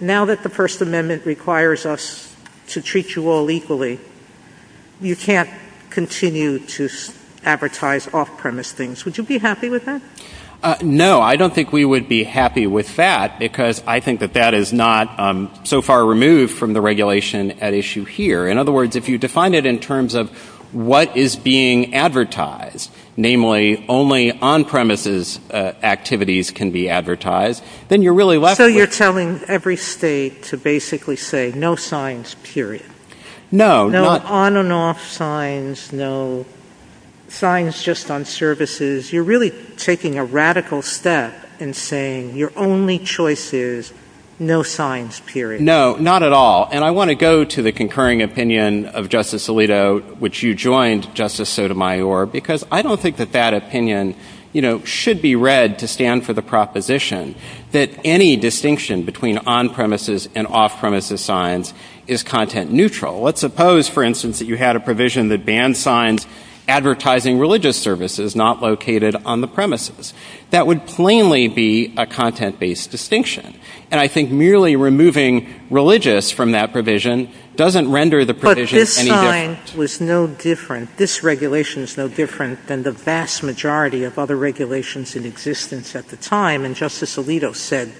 Now that the First Amendment requires us to treat you all equally, you can't continue to advertise off-premise things. Would you be happy with that? No, I don't think we would be happy with that, because I think that that is not so far removed from the regulation at issue here. In other words, if you define it in terms of what is being advertised—namely, only on-premises activities can be advertised—then you're really left with— So you're telling every state to basically say, no signs, period. No, not— No signs just on services. You're really taking a radical step in saying your only choice is no signs, period. No, not at all. And I want to go to the concurring opinion of Justice Alito, which you joined, Justice Sotomayor, because I don't think that that opinion, you know, should be read to stand for the proposition that any distinction between on-premises and off-premises signs is content neutral. Let's suppose, for instance, that you had a provision that banned signs advertising religious services not located on the premises. That would plainly be a content-based distinction. And I think merely removing religious from that provision doesn't render the provision any different. But this sign was no different. This regulation is no different than the vast majority of other regulations in existence at the time. And Justice Alito said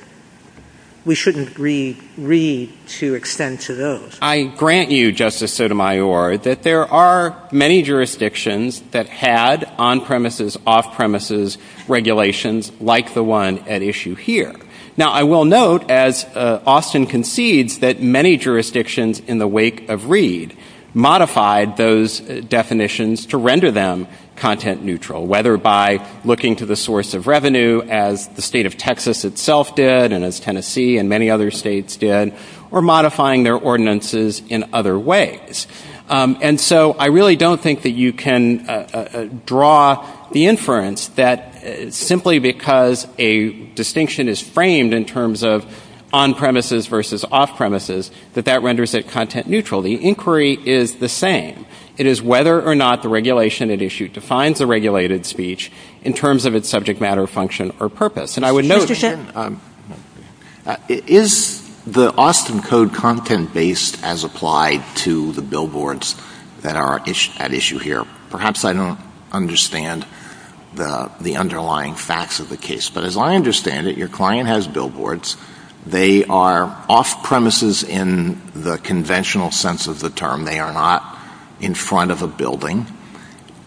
we shouldn't read to extend to those. I grant you, Justice Sotomayor, that there are many jurisdictions that had on-premises, off-premises regulations like the one at issue here. Now, I will note, as Austin concedes, that many jurisdictions in the wake of Reed modified those definitions to render them content neutral, whether by looking to the source of revenue as the state of Texas itself did and as Tennessee and many other states did, or modifying their ordinances in other ways. And so I really don't think that you can draw the inference that simply because a distinction is framed in terms of on-premises versus off-premises, that that renders it content neutral. The inquiry is the same. It is whether or not the regulation at issue defines the regulated speech in terms of its subject matter, function, or purpose. I would note, is the Austin Code content-based as applied to the billboards that are at issue here? Perhaps I don't understand the underlying facts of the case, but as I understand it, your client has billboards. They are off-premises in the conventional sense of the term. They are not in front of a building.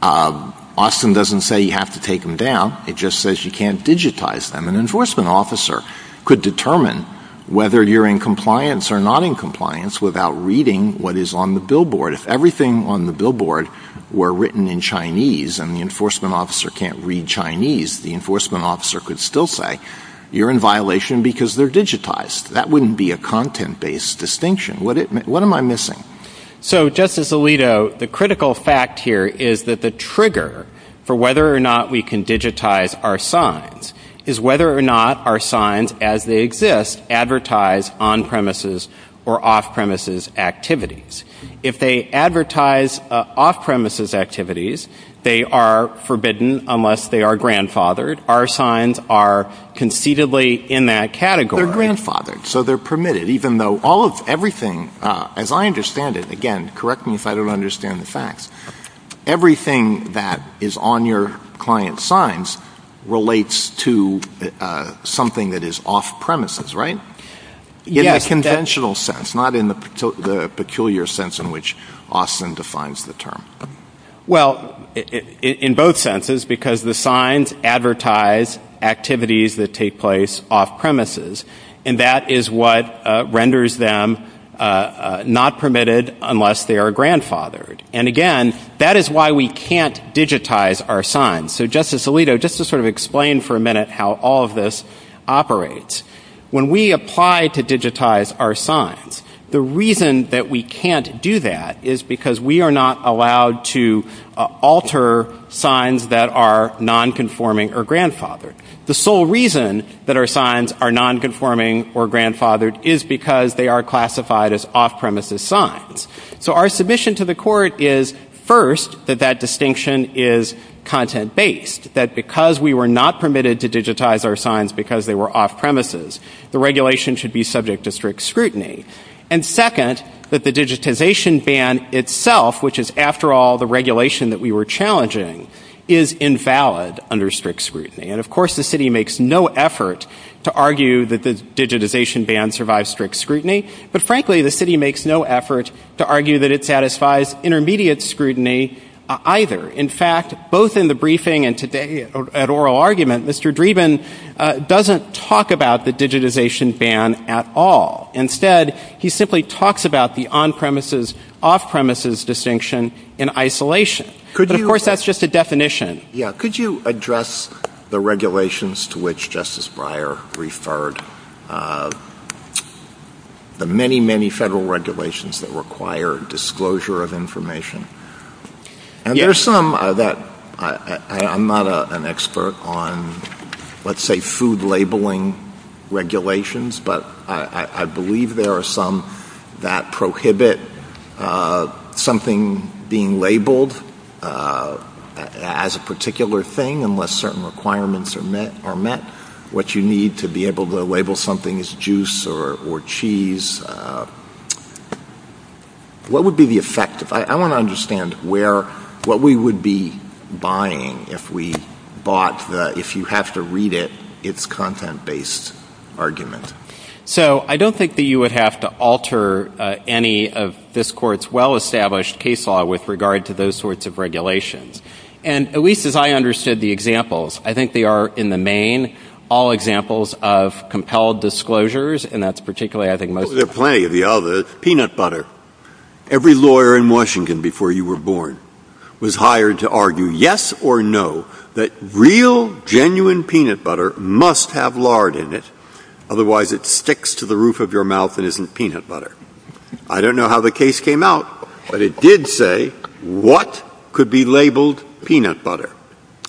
Austin doesn't say you have to take them down. It just says you can't digitize them. An enforcement officer could determine whether you're in compliance or not in compliance without reading what is on the billboard. If everything on the billboard were written in Chinese and the enforcement officer can't read Chinese, the enforcement officer could still say you're in violation because they're digitized. That wouldn't be a content-based distinction. What am I missing? Justice Alito, the critical fact here is that the trigger for whether or not we can digitize our signs is whether or not our signs, as they exist, advertise on-premises or off-premises activities. If they advertise off-premises activities, they are forbidden unless they are grandfathered. Our signs are conceitedly in that category. They're grandfathered, so they're permitted, even though all of everything, as I understand it, again, correct me if I don't understand the facts, everything that is on your client's signs relates to something that is off-premises, right? In the conventional sense, not in the peculiar sense in which Austin defines the term. Well, in both senses, because the signs advertise activities that take place off-premises, and that is what renders them not permitted unless they are grandfathered. And, again, that is why we can't digitize our signs. So, Justice Alito, just to sort of explain for a minute how all of this operates, when we apply to digitize our signs, the reason that we can't do that is because we are not allowed to alter signs that are non-conforming or grandfathered. The sole reason that our signs are non-conforming or grandfathered is because they are classified as off-premises signs. So our submission to the court is, first, that that distinction is content-based, that because we were not permitted to digitize our signs because they were off-premises, the regulation should be subject to strict scrutiny. And, second, that the digitization ban itself, which is, after all, the regulation that we were challenging, is invalid under strict scrutiny. And, of course, the city makes no effort to argue that the digitization ban survives strict scrutiny, but, frankly, the city makes no effort to argue that it satisfies intermediate scrutiny either. In fact, both in the briefing and today at oral argument, Mr. Dreeben doesn't talk about the digitization ban at all. Instead, he simply talks about the on-premises, off-premises distinction in isolation. But, of course, that's just a definition. Could you address the regulations to which Justice Breyer referred, the many, many federal regulations that require disclosure of information? And there's some that, I'm not an expert on, let's say, food labeling regulations, but I don't think that's a particular thing unless certain requirements are met. What you need to be able to label something is juice or cheese. What would be the effect? I want to understand what we would be buying if we thought that if you have to read it, it's content-based argument. So I don't think that you would have to alter any of this court's well-established case law with regard to those sorts of regulations. And at least as I understood the examples, I think they are, in the main, all examples of compelled disclosures, and that's particularly, I think, most— There are plenty of the others. Peanut butter. Every lawyer in Washington before you were born was hired to argue yes or no that real, genuine peanut butter must have lard in it, otherwise it sticks to the roof of your mouth and isn't peanut butter. I don't know how the case came out, but it did say what could be labeled peanut butter.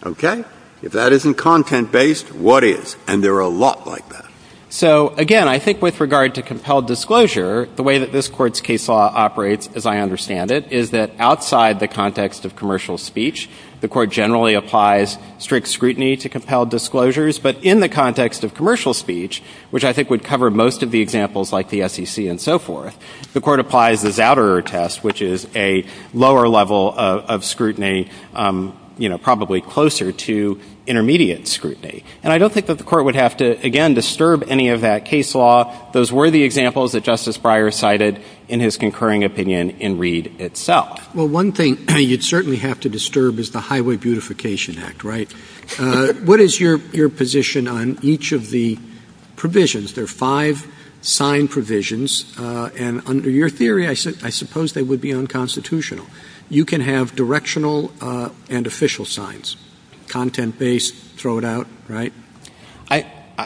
OK? If that isn't content-based, what is? And there are a lot like that. So again, I think with regard to compelled disclosure, the way that this court's case law operates, as I understand it, is that outside the context of commercial speech, the court generally applies strict scrutiny to compelled disclosures. But in the context of commercial speech, which I think would cover most of the examples like the SEC and so forth, the court applies the Zouderer test, which is a lower level of scrutiny, you know, probably closer to intermediate scrutiny. And I don't think that the court would have to, again, disturb any of that case law. Those were the examples that Justice Breyer cited in his concurring opinion in Reed itself. Well, one thing you'd certainly have to disturb is the Highway Beautification Act, right? What is your position on each of the provisions? There are five sign provisions. And under your theory, I suppose they would be unconstitutional. You can have directional and official signs, content-based, throw it out, right?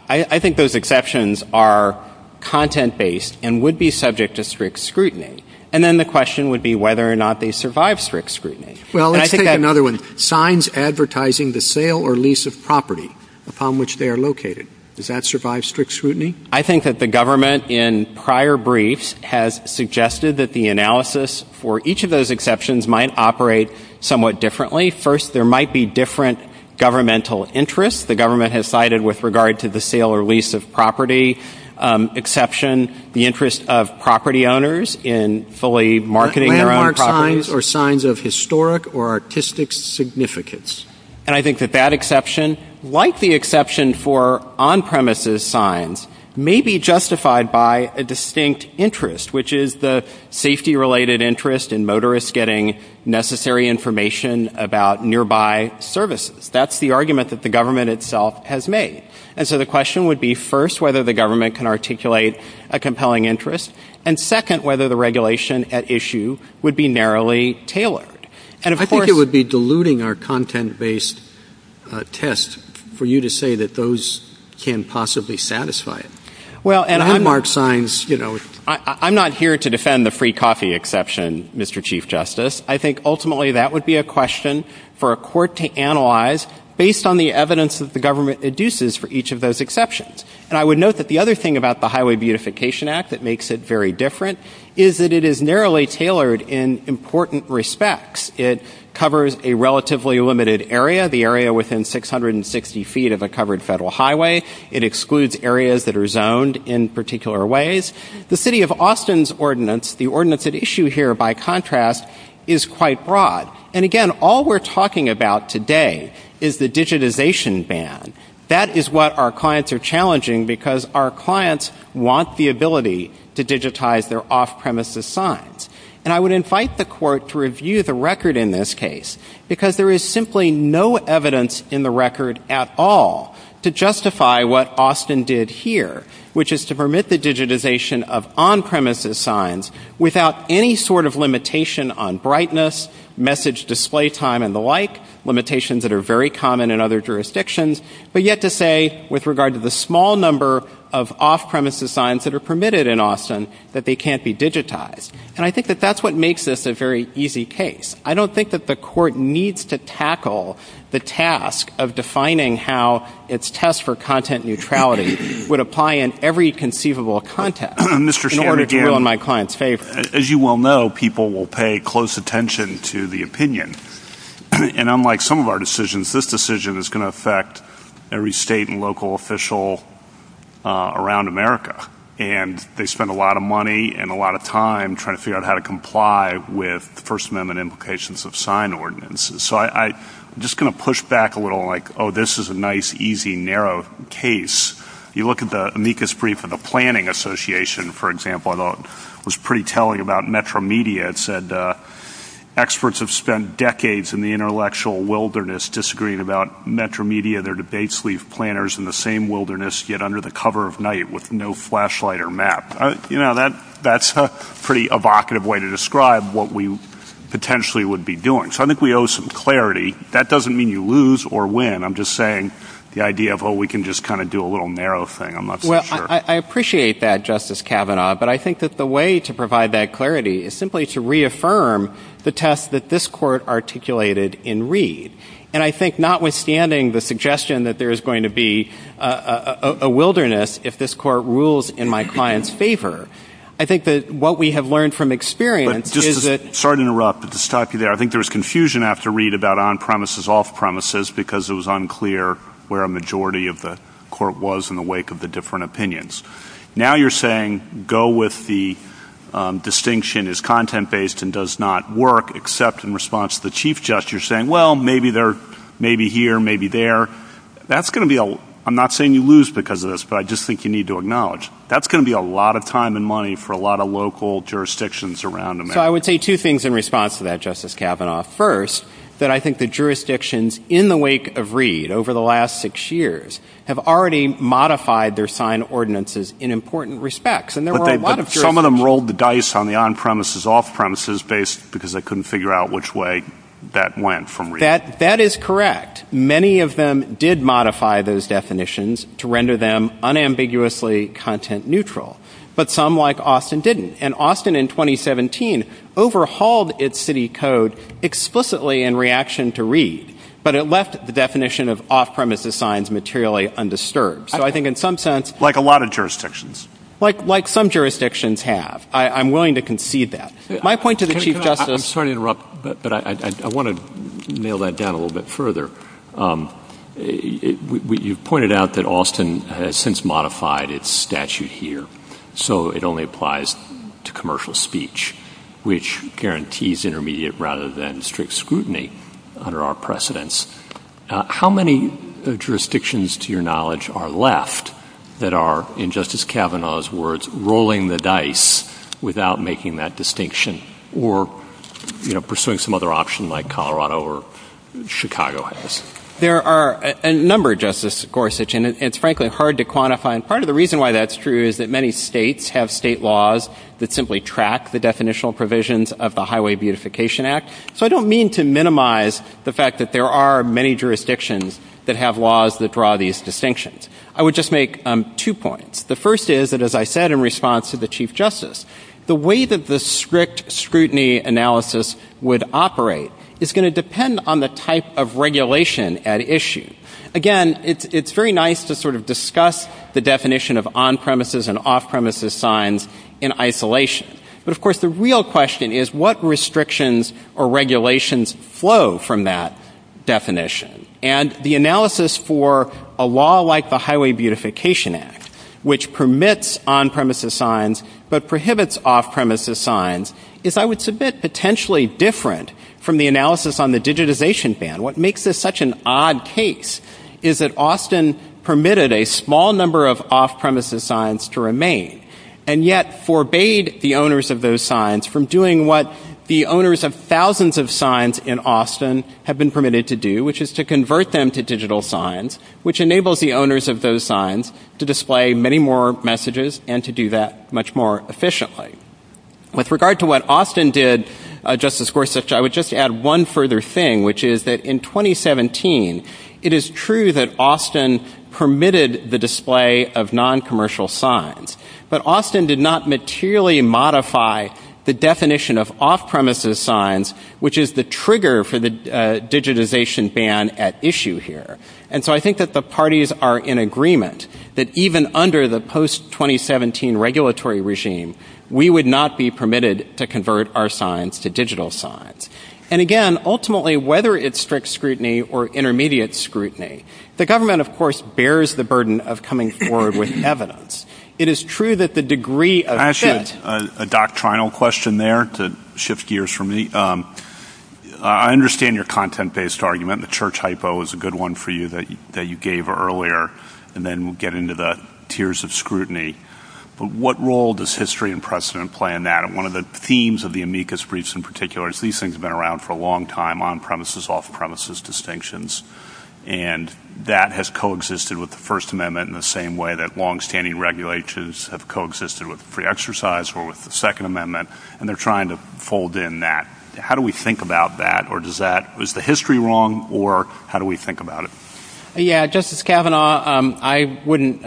I think those exceptions are content-based and would be subject to strict scrutiny. And then the question would be whether or not they survive strict scrutiny. Well, let's take another one. Signs advertising the sale or lease of property upon which they are located. Does that survive strict scrutiny? I think that the government in prior briefs has suggested that the analysis for each of those exceptions might operate somewhat differently. First, there might be different governmental interests. The government has cited with regard to the sale or lease of property exception the interest of property owners in fully marketing their own property. Are signs of historic or artistic significance? And I think that that exception, like the exception for on-premises signs, may be justified by a distinct interest, which is the safety-related interest in motorists getting necessary information about nearby services. That's the argument that the government itself has made. And so the question would be, first, whether the government can articulate a compelling interest, and second, whether the regulation at issue would be narrowly tailored. And I think it would be diluting our content-based test for you to say that those can't possibly satisfy it. Well, and high-marked signs, you know. I'm not here to defend the free coffee exception, Mr. Chief Justice. I think ultimately that would be a question for a court to analyze based on the evidence that the government induces for each of those exceptions. And I would note that the other thing about the Highway Beautification Act that makes it very covers a relatively limited area, the area within 660 feet of a covered federal highway. It excludes areas that are zoned in particular ways. The city of Austin's ordinance, the ordinance at issue here, by contrast, is quite broad. And again, all we're talking about today is the digitization ban. That is what our clients are challenging because our clients want the ability to digitize their off-premises signs. And I would invite the court to review the record in this case because there is simply no evidence in the record at all to justify what Austin did here, which is to permit the digitization of on-premises signs without any sort of limitation on brightness, message display time, and the like, limitations that are very common in other jurisdictions, but yet to say with regard to the small number of off-premises signs that are permitted in Austin that they can't be digitized. And I think that that's what makes this a very easy case. I don't think that the court needs to tackle the task of defining how its test for content neutrality would apply in every conceivable context in order to win my client's favor. Mr. Chairman, as you well know, people will pay close attention to the opinion. And unlike some of our decisions, this decision is going to affect every state and local official around America. And they spend a lot of money and a lot of time trying to figure out how to comply with the First Amendment implications of sign ordinances. So I'm just going to push back a little like, oh, this is a nice, easy, narrow case. You look at the amicus brief of the Planning Association, for example, I thought it was pretty telling about Metro Media. It said experts have spent decades in the intellectual wilderness disagreeing about Metro Media. Their debates leave planners in the same wilderness yet under the cover of night with no flashlight or map. You know, that's a pretty evocative way to describe what we potentially would be doing. So I think we owe some clarity. That doesn't mean you lose or win. I'm just saying the idea of, oh, we can just kind of do a little narrow thing. I'm not sure. Well, I appreciate that, Justice Kavanaugh. But I think that the way to provide that clarity is simply to reaffirm the test that this court articulated in Reed. And I think notwithstanding the suggestion that there is going to be a wilderness if this court rules in my client's favor, I think that what we have learned from experience is that— Sorry to interrupt, but to stop you there, I think there was confusion after Reed about on-premises, off-premises, because it was unclear where a majority of the court was in the wake of the different opinions. Now you're saying go with the distinction is content-based and does not work, except in response to the Chief Justice. You're saying, well, maybe they're maybe here, maybe there. That's going to be a—I'm not saying you lose because of this, but I just think you need to acknowledge that's going to be a lot of time and money for a lot of local jurisdictions around America. So I would say two things in response to that, Justice Kavanaugh. First, that I think the jurisdictions in the wake of Reed over the last six years have already modified their signed ordinances in important respects. But some of them rolled the dice on the on-premises, off-premises, because they couldn't figure out which way that went from Reed. That is correct. Many of them did modify those definitions to render them unambiguously content-neutral, but some, like Austin, didn't. And Austin in 2017 overhauled its city code explicitly in reaction to Reed, but it left the definition of off-premises signs materially undisturbed. So I think in some sense— Like a lot of jurisdictions. Like some jurisdictions have. I'm willing to concede that. My point to the Chief Justice— But I want to nail that down a little bit further. You pointed out that Austin has since modified its statute here, so it only applies to commercial speech, which guarantees intermediate rather than strict scrutiny under our precedents. How many jurisdictions, to your knowledge, are left that are, in Justice Kavanaugh's words, rolling the dice without making that distinction or pursuing some other option like Colorado or Chicago has? There are a number, Justice Gorsuch, and it's frankly hard to quantify. And part of the reason why that's true is that many states have state laws that simply track the definitional provisions of the Highway Beautification Act. So I don't mean to minimize the fact that there are many jurisdictions that have laws that draw these distinctions. I would just make two points. The first is that, as I said in response to the Chief Justice, the way that the strict scrutiny analysis would operate is going to depend on the type of regulation at issue. Again, it's very nice to sort of discuss the definition of on-premises and off-premises signs in isolation. But of course, the real question is what restrictions or regulations flow from that definition. And the analysis for a law like the Highway Beautification Act, which permits on-premises signs but prohibits off-premises signs, is, I would submit, potentially different from the analysis on the digitization ban. What makes this such an odd case is that Austin permitted a small number of off-premises signs to remain and yet forbade the owners of those signs from doing what the owners of thousands of signs in Austin have been permitted to do, which is to convert them to digital signs, which enables the owners of those signs to display many more messages and to do that much more efficiently. With regard to what Austin did, Justice Gorsuch, I would just add one further thing, which is that in 2017, it is true that Austin permitted the display of non-commercial signs. But Austin did not materially modify the definition of off-premises signs, which is the trigger for the digitization ban at issue here. And so I think that the parties are in agreement that even under the post-2017 regulatory regime, we would not be permitted to convert our signs to digital signs. And again, ultimately, whether it's strict scrutiny or intermediate scrutiny, the government of course bears the burden of coming forward with evidence. It is true that the degree of— Can I ask you a doctrinal question there to shift gears for me? I understand your content-based argument. The church hypo is a good one for you that you gave earlier, and then we'll get into the tiers of scrutiny. But what role does history and precedent play in that? And one of the themes of the amicus briefs in particular is these things have been around for a long time, on-premises, off-premises distinctions. And that has coexisted with the First Amendment in the same way that long-standing regulations have coexisted with the pre-exercise or with the Second Amendment, and they're trying to fold in that. How do we think about that? Is the history wrong, or how do we think about it? Yeah, Justice Kavanaugh, I wouldn't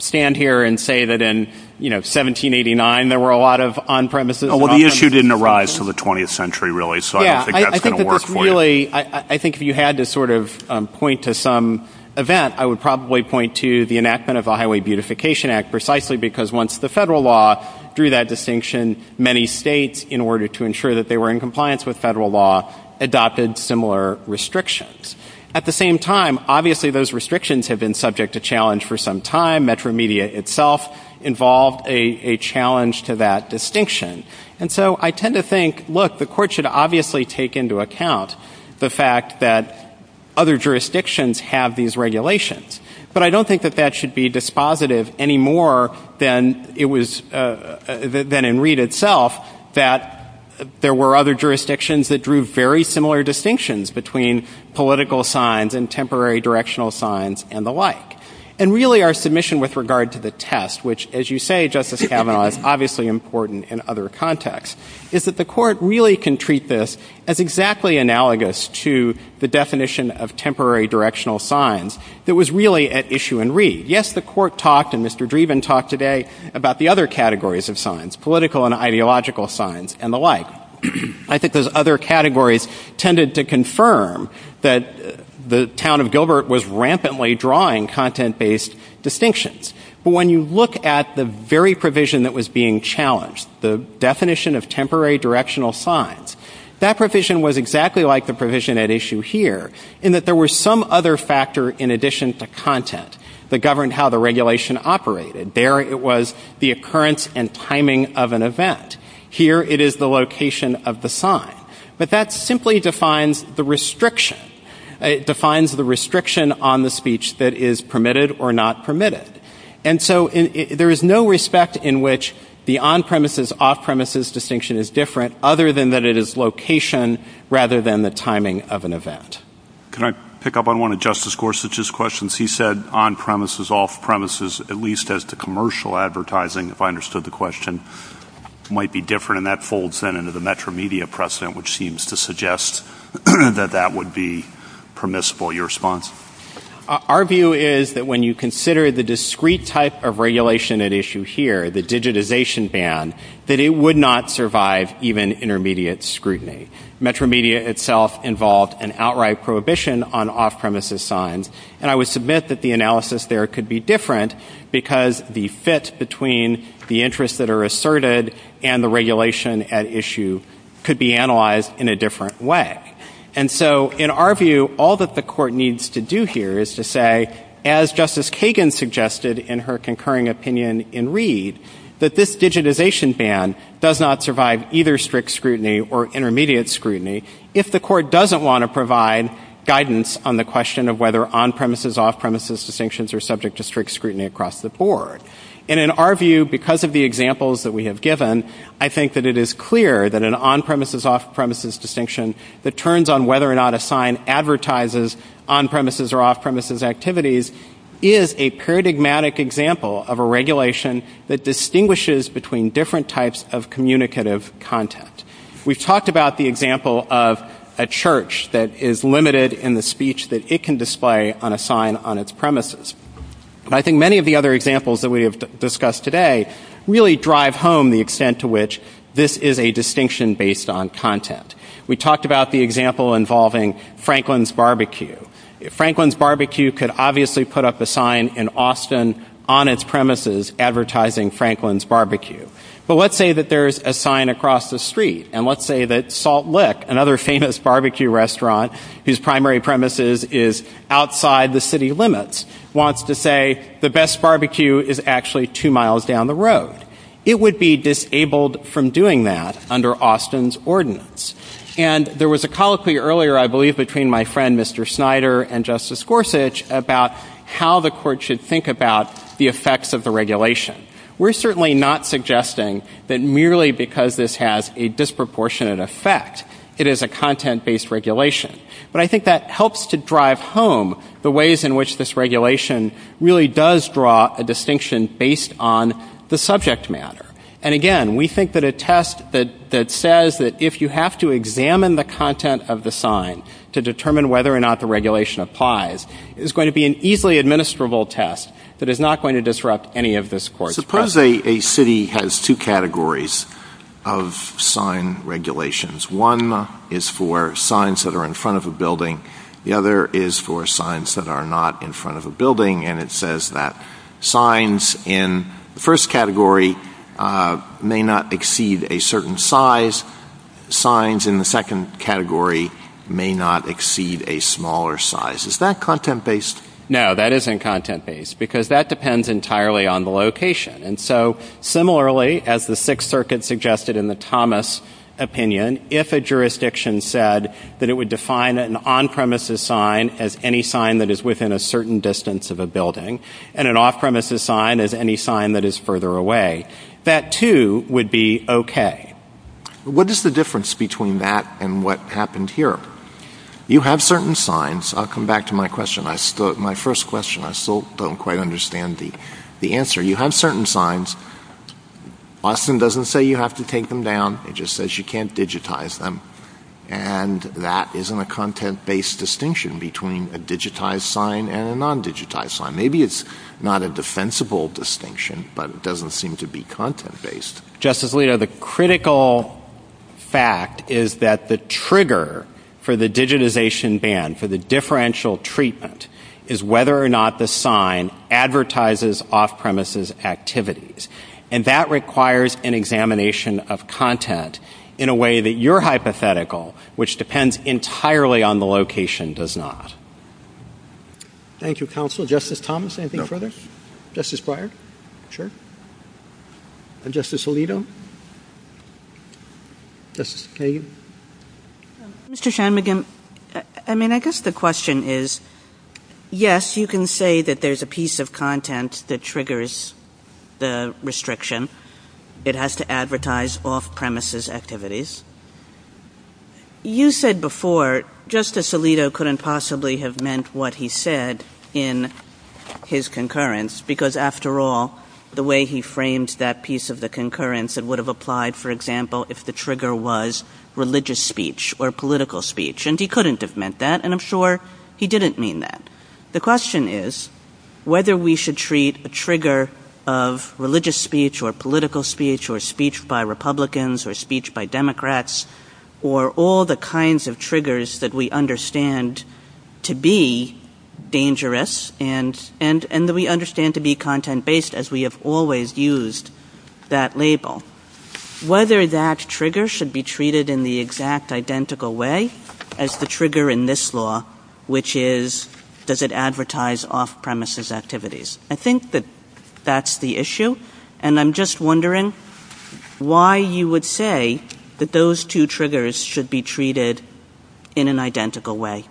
stand here and say that in 1789, there were a lot of on-premises— Well, the issue didn't arise until the 20th century, really, so I think that's going to work for you. I think if you had to sort of point to some event, I would probably point to the enactment of the Highway Beautification Act, precisely because once the federal law drew that distinction, many states, in order to ensure that they were in compliance with federal law, adopted similar restrictions. At the same time, obviously, those restrictions have been subject to challenge for some time. Metromedia itself involved a challenge to that distinction. And so I tend to think, look, the Court should obviously take into account the fact that other jurisdictions have these regulations, but I don't think that that should be dispositive any more than it was—than in Reed itself, that there were other jurisdictions that drew very similar distinctions between political signs and temporary directional signs and the like. And really, our submission with regard to the test, which, as you say, Justice Kavanaugh, is obviously important in other contexts, is that the Court really can treat this as exactly analogous to the definition of temporary directional signs that was really at issue in Reed. Yes, the Court talked, and Mr. Dreven talked today, about the other categories of signs, political and ideological signs and the like. I think those other categories tended to confirm that the town of Gilbert was rampantly drawing content-based distinctions. But when you look at the very provision that was being challenged, the definition of temporary directional signs, that provision was exactly like the provision at issue here, in that there was some other factor in addition to content that governed how the regulation operated. There it was the occurrence and timing of an event. Here it is the location of the sign. But that simply defines the restriction. It defines the restriction on the speech that is permitted or not permitted. And so there is no respect in which the on-premises, off-premises distinction is different, other than that it is location rather than the timing of an event. Can I pick up on one of Justice Gorsuch's questions? He said on-premises, off-premises, at least as to commercial advertising, if I understood the question, might be different, and that folds then into the metromedia precedent, which seems to suggest that that would be permissible. Your response? Our view is that when you consider the discrete type of regulation at issue here, the digitization ban, that it would not survive even intermediate scrutiny. Metromedia itself involved an outright prohibition on off-premises signs, and I would submit that the analysis there could be different because the fit between the interests that are asserted and the regulation at issue could be analyzed in a different way. And so in our view, all that the court needs to do here is to say, as Justice Kagan suggested in her concurring opinion in Reed, that this digitization ban does not survive either strict scrutiny or intermediate scrutiny if the court doesn't want to provide guidance on the question of whether on-premises, off-premises distinctions are subject to strict scrutiny across the board. And in our view, because of the examples that we have given, I think that it is clear that an on-premises, off-premises distinction that turns on whether or not a sign advertises on-premises or off-premises activities is a paradigmatic example of a regulation that distinguishes between different types of communicative content. We've talked about the example of a church that is limited in the speech that it can display on a sign on its premises. And I think many of the other examples that we have discussed today really drive home the extent to which this is a distinction based on content. We talked about the example involving Franklin's Barbecue. Franklin's Barbecue could obviously put up a sign in Austin on its premises advertising Franklin's Barbecue. But let's say that there's a sign across the street. And let's say that Salt Lick, another famous barbecue restaurant whose primary premises is outside the city limits, wants to say the best barbecue is actually two miles down the road. It would be disabled from doing that under Austin's ordinance. And there was a colloquy earlier, I believe, between my friend Mr. Snyder and Justice Gorsuch about how the court should think about the effects of the regulation. We're certainly not suggesting that merely because this has a disproportionate effect, it is a content-based regulation. But I think that helps to drive home the ways in which this regulation really does draw a distinction based on the subject matter. And again, we think that a test that says that if you have to examine the content of the sign to determine whether or not the regulation applies, it's going to be an easily administrable test that is not going to disrupt any of this court's judgment. Suppose a city has two categories of sign regulations. One is for signs that are in front of a building. And it says that signs in the first category may not exceed a certain size. Signs in the second category may not exceed a smaller size. Is that content-based? No, that isn't content-based, because that depends entirely on the location. And so similarly, as the Sixth Circuit suggested in the Thomas opinion, if a jurisdiction said that it would define an on-premises sign as any sign that is within a certain distance of a building and an off-premises sign as any sign that is further away, that too would be okay. What is the difference between that and what happened here? You have certain signs. I'll come back to my first question. I still don't quite understand the answer. You have certain signs. Boston doesn't say you have to take them down. It just says you can't digitize them. And that isn't a content-based distinction between a digitized sign and a non-digitized sign. Maybe it's not a defensible distinction, but it doesn't seem to be content-based. Justice Alito, the critical fact is that the trigger for the digitization ban, for the differential treatment, is whether or not the sign advertises off-premises activities. And that requires an examination of content in a way that your hypothetical, which depends entirely on the location, does not. Thank you, counsel. Justice Thomas, anything further? Justice Breyer? Sure. Justice Alito? Justice Hayden? Mr. Shanmugam, I mean, I guess the question is, yes, you can say that there's a piece of content that triggers the restriction. It has to advertise off-premises activities. You said before Justice Alito couldn't possibly have meant what he said in his concurrence, because after all, the way he framed that piece of the concurrence, it would have applied, for example, if the trigger was religious speech or political speech. And he couldn't have meant that, and I'm sure he didn't mean that. The question is whether we should treat a trigger of religious speech or political speech or speech by Republicans or speech by Democrats or all the kinds of triggers that we understand to be dangerous and that we understand to be content-based, as we have always used that label, whether that trigger should be treated in the exact identical way as the trigger in this law, which is, does it advertise off-premises activities? I think that that's the issue, and I'm just wondering why you would say that those two triggers should be treated in an identical way.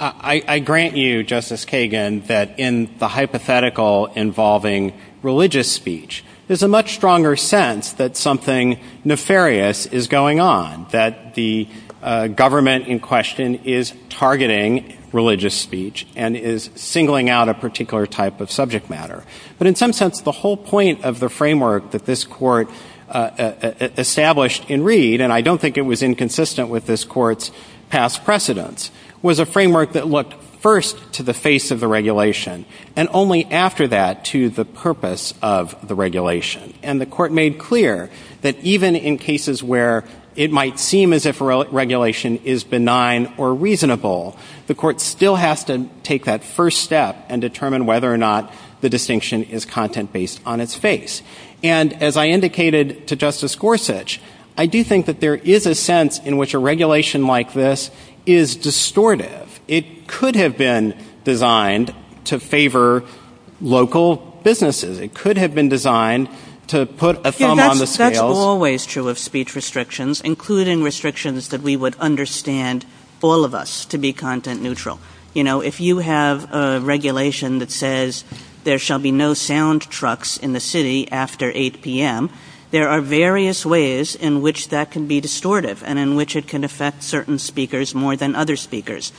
I grant you, Justice Kagan, that in the hypothetical involving religious speech, there's a much stronger sense that something nefarious is going on, that the government in religious speech and is singling out a particular type of subject matter. But in some sense, the whole point of the framework that this court established in Reed, and I don't think it was inconsistent with this court's past precedents, was a framework that looked first to the face of the regulation and only after that to the purpose of the regulation. And the court made clear that even in cases where it might seem as if regulation is benign or reasonable, the court still has to take that first step and determine whether or not the distinction is content-based on its face. And as I indicated to Justice Gorsuch, I do think that there is a sense in which a regulation like this is distortive. It could have been designed to favor local businesses. It could have been designed to put a thumb on the scale. That's always true of speech restrictions, including restrictions that we would understand all of us to be content-neutral. You know, if you have a regulation that says, there shall be no sound trucks in the city after 8 p.m., there are various ways in which that can be distortive and in which it can affect certain speakers more than other speakers.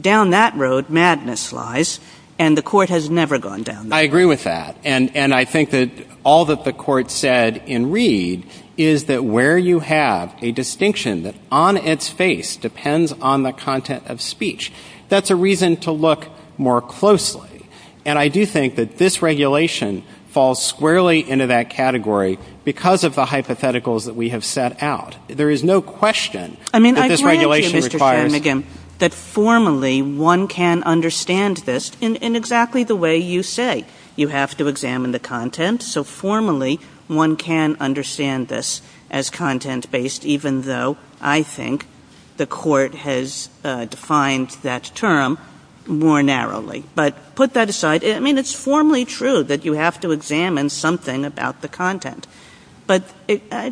Down that road, madness lies, and the court has never gone down that. I agree with that. And I think that all that the court said in Reed is that where you have a distinction that on its face depends on the content of speech, that's a reason to look more closely. And I do think that this regulation falls squarely into that category because of the hypotheticals that we have set out. There is no question that this regulation requires— I mean, I do think, Mr. Stedman, that formally one can understand this in exactly the way you say. You have to examine the content. So formally, one can understand this as content-based, even though I think the court has defined that term more narrowly. But put that aside. I mean, it's formally true that you have to examine something about the content. But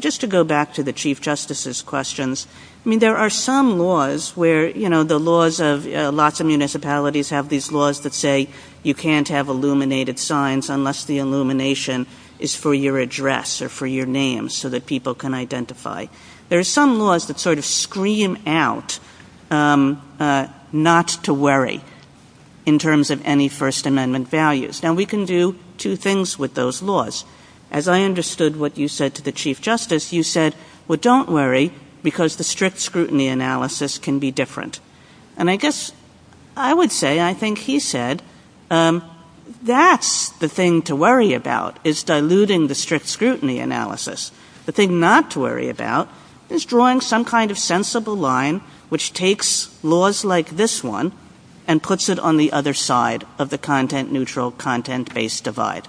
just to go back to the Chief Justice's questions, I mean, there are some laws where, you know, the laws of lots of municipalities have these laws that say you can't have illuminated signs unless the illumination is for your address or for your name so that people can identify. There are some laws that sort of scream out not to worry in terms of any First Amendment values. Now, we can do two things with those laws. As I understood what you said to the Chief Justice, you said, well, don't worry because the strict scrutiny analysis can be different. And I guess I would say, and I think he said, that's the thing to worry about is diluting the strict scrutiny analysis. The thing not to worry about is drawing some kind of sensible line which takes laws like this one and puts it on the other side of the content-neutral, content-based divide.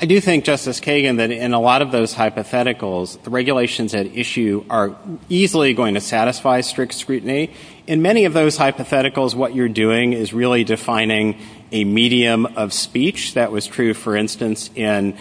I do think, Justice Kagan, that in a lot of those hypotheticals, regulations at issue are easily going to satisfy strict scrutiny. In many of those hypotheticals, what you're doing is really defining a medium of speech. That was true, for instance, in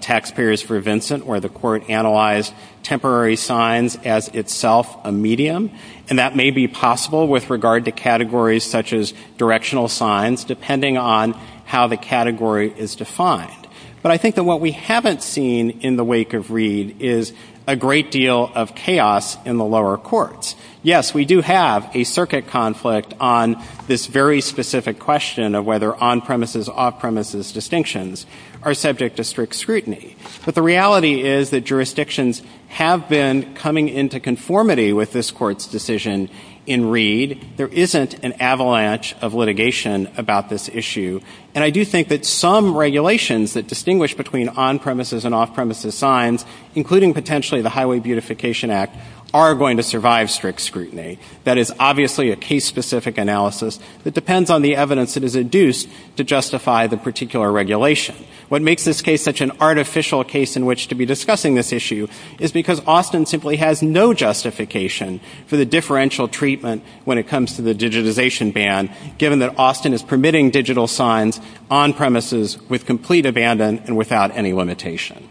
Taxpayers for Vincent, where the court analyzed temporary signs as itself a medium. And that may be possible with regard to categories such as directional signs, depending on how the category is defined. But I think that what we haven't seen in the wake of Reed is a great deal of chaos in the lower courts. Yes, we do have a circuit conflict on this very specific question of whether on-premises, off-premises distinctions are subject to strict scrutiny. But the reality is that jurisdictions have been coming into conformity with this Court's decision in Reed. There isn't an avalanche of litigation about this issue. And I do think that some regulations that distinguish between on-premises and off-premises signs, including potentially the Highway Beautification Act, are going to survive strict scrutiny. That is obviously a case-specific analysis that depends on the evidence that is induced to justify the particular regulation. What makes this case such an artificial case in which to be discussing this issue is because Austin simply has no justification for the differential treatment when it comes to the digitization ban, given that Austin is permitting digital signs on-premises with complete abandon and without any limitation.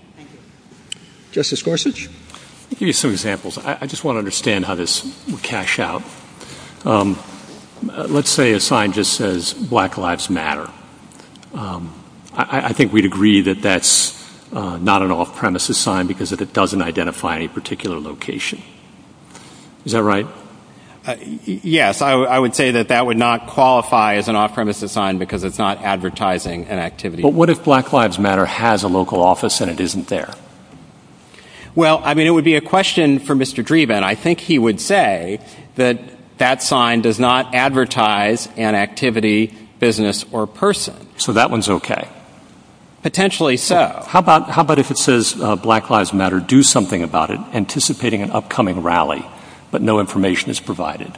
Justice Gorsuch? Let me give you some examples. I just want to understand how this would cash out. Let's say a sign just says, Black Lives Matter. I think we'd agree that that's not an off-premises sign because it doesn't identify any particular location. Is that right? Yes, I would say that that would not qualify as an off-premises sign because it's not advertising an activity. What if Black Lives Matter has a local office and it isn't there? Well, I mean, it would be a question for Mr. Dreeben. I think he would say that that sign does not advertise an activity, business, or person. So that one's okay? Potentially so. How about if it says Black Lives Matter, do something about it, anticipating an upcoming rally, but no information is provided?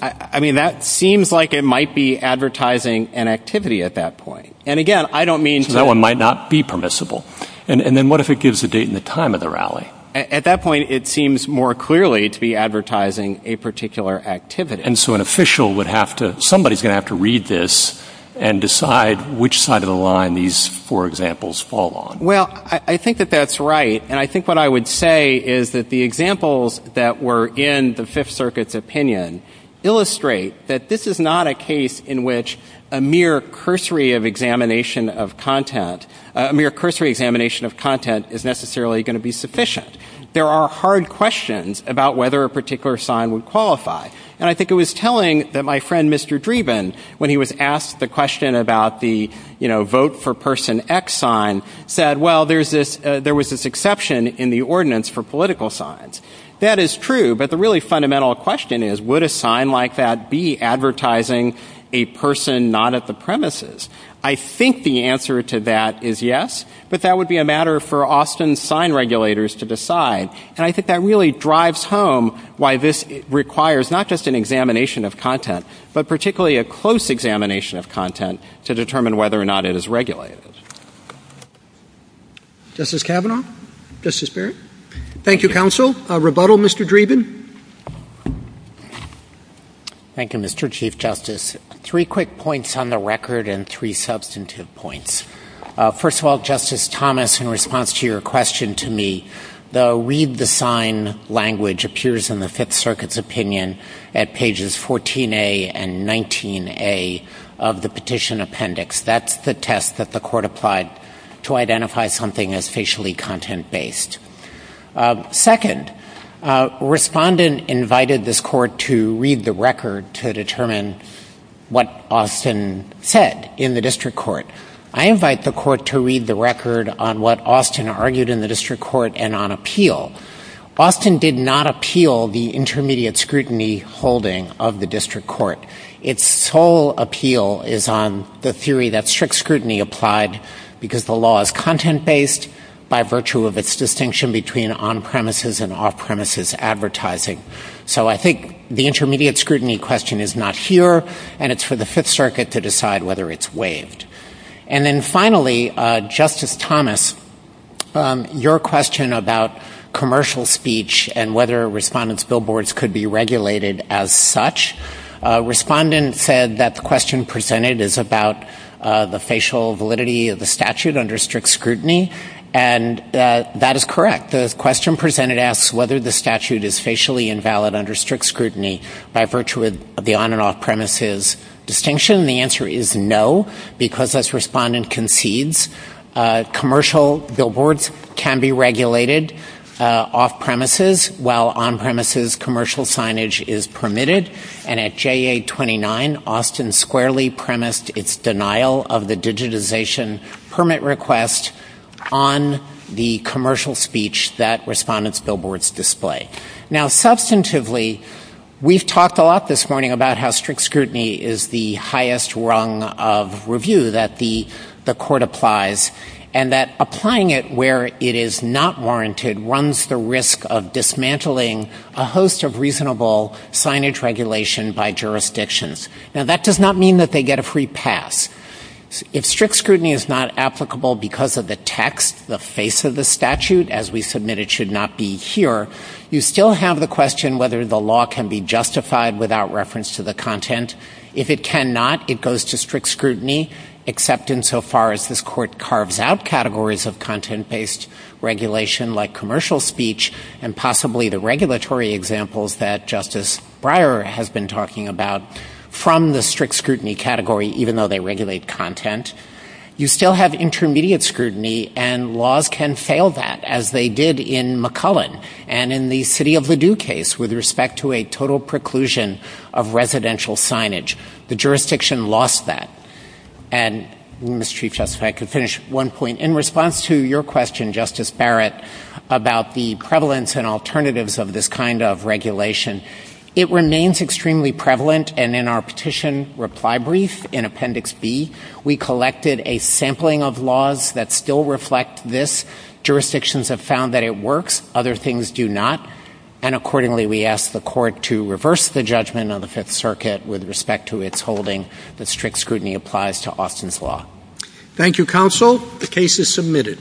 I mean, that seems like it might be advertising an activity at that point. And again, I don't mean... So that one might not be permissible. And then what if it gives a date and a time of the rally? At that point, it seems more clearly to be advertising a particular activity. And so an official would have to... Somebody's going to have to read this and decide which side of the line these four examples fall on. Well, I think that that's right. And I think what I would say is that the examples that were in the Fifth Circuit's opinion illustrate that this is not a case in which a mere cursory examination of content is necessarily going to be sufficient. There are hard questions about whether a particular sign would qualify. And I think it was telling that my friend Mr. Dreeben, when he was asked the question about the vote for person X sign, said, well, there was this exception in the ordinance for political signs. That is true. But the really fundamental question is, would a sign like that be advertising a person not at the premises? I think the answer to that is yes. But that would be a matter for Austin sign regulators to decide. And I think that really drives home why this requires not just an examination of content, but particularly a close examination of content to determine whether or not it is regulated. Justice Kavanaugh? Justice Barrett? Thank you, counsel. Rebuttal, Mr. Dreeben? Thank you, Mr. Chief Justice. Three quick points on the record and three substantive points. First of all, Justice Thomas, in response to your question to me, the read the sign language appears in the Fifth Circuit's opinion at pages 14a and 19a of the petition appendix. That's the test that the court applied to identify something as facially content-based. Second, a respondent invited this court to read the record to determine what Austin said in the district court. I invite the court to read the record on what Austin argued in the district court and on appeal. Austin did not appeal the intermediate scrutiny holding of the district court. Its sole appeal is on the theory that strict scrutiny applied because the law is content-based by virtue of its distinction between on-premises and off-premises advertising. So I think the intermediate scrutiny question is not here, and it's for the Fifth Circuit to decide whether it's waived. And then finally, Justice Thomas, your question about commercial speech and whether respondents' billboards could be regulated as such, respondent said that the question presented is about the facial validity of the statute under strict scrutiny, and that is correct. The question presented asks whether the statute is facially invalid under strict scrutiny by virtue of the on- and off-premises distinction. The answer is no, because as respondent concedes, commercial billboards can be regulated off-premises while on-premises commercial signage is permitted. And at JA-29, Austin squarely premised its denial of the digitization permit request on the commercial speech that respondents' billboards display. Now, substantively, we've talked a lot this morning about how strict scrutiny is the highest rung of review that the court applies, and that applying it where it is not jurisdictions. Now, that does not mean that they get a free pass. If strict scrutiny is not applicable because of the text, the face of the statute, as we submit it should not be here, you still have the question whether the law can be justified without reference to the content. If it cannot, it goes to strict scrutiny, except insofar as this court carves out examples that Justice Breyer has been talking about from the strict scrutiny category, even though they regulate content. You still have intermediate scrutiny, and laws can fail that, as they did in McCullen and in the City of Ladew case with respect to a total preclusion of residential signage. The jurisdiction lost that. And, Mr. Chief Justice, if I could finish one point. In response to your question, Justice Barrett, about the prevalence and alternatives of this kind of regulation, it remains extremely prevalent, and in our petition reply brief in Appendix B, we collected a sampling of laws that still reflect this. Jurisdictions have found that it works. Other things do not. And accordingly, we ask the court to reverse the judgment on the Fifth Circuit with respect to its holding that strict scrutiny applies to Austin's law. Thank you, counsel. The case is submitted.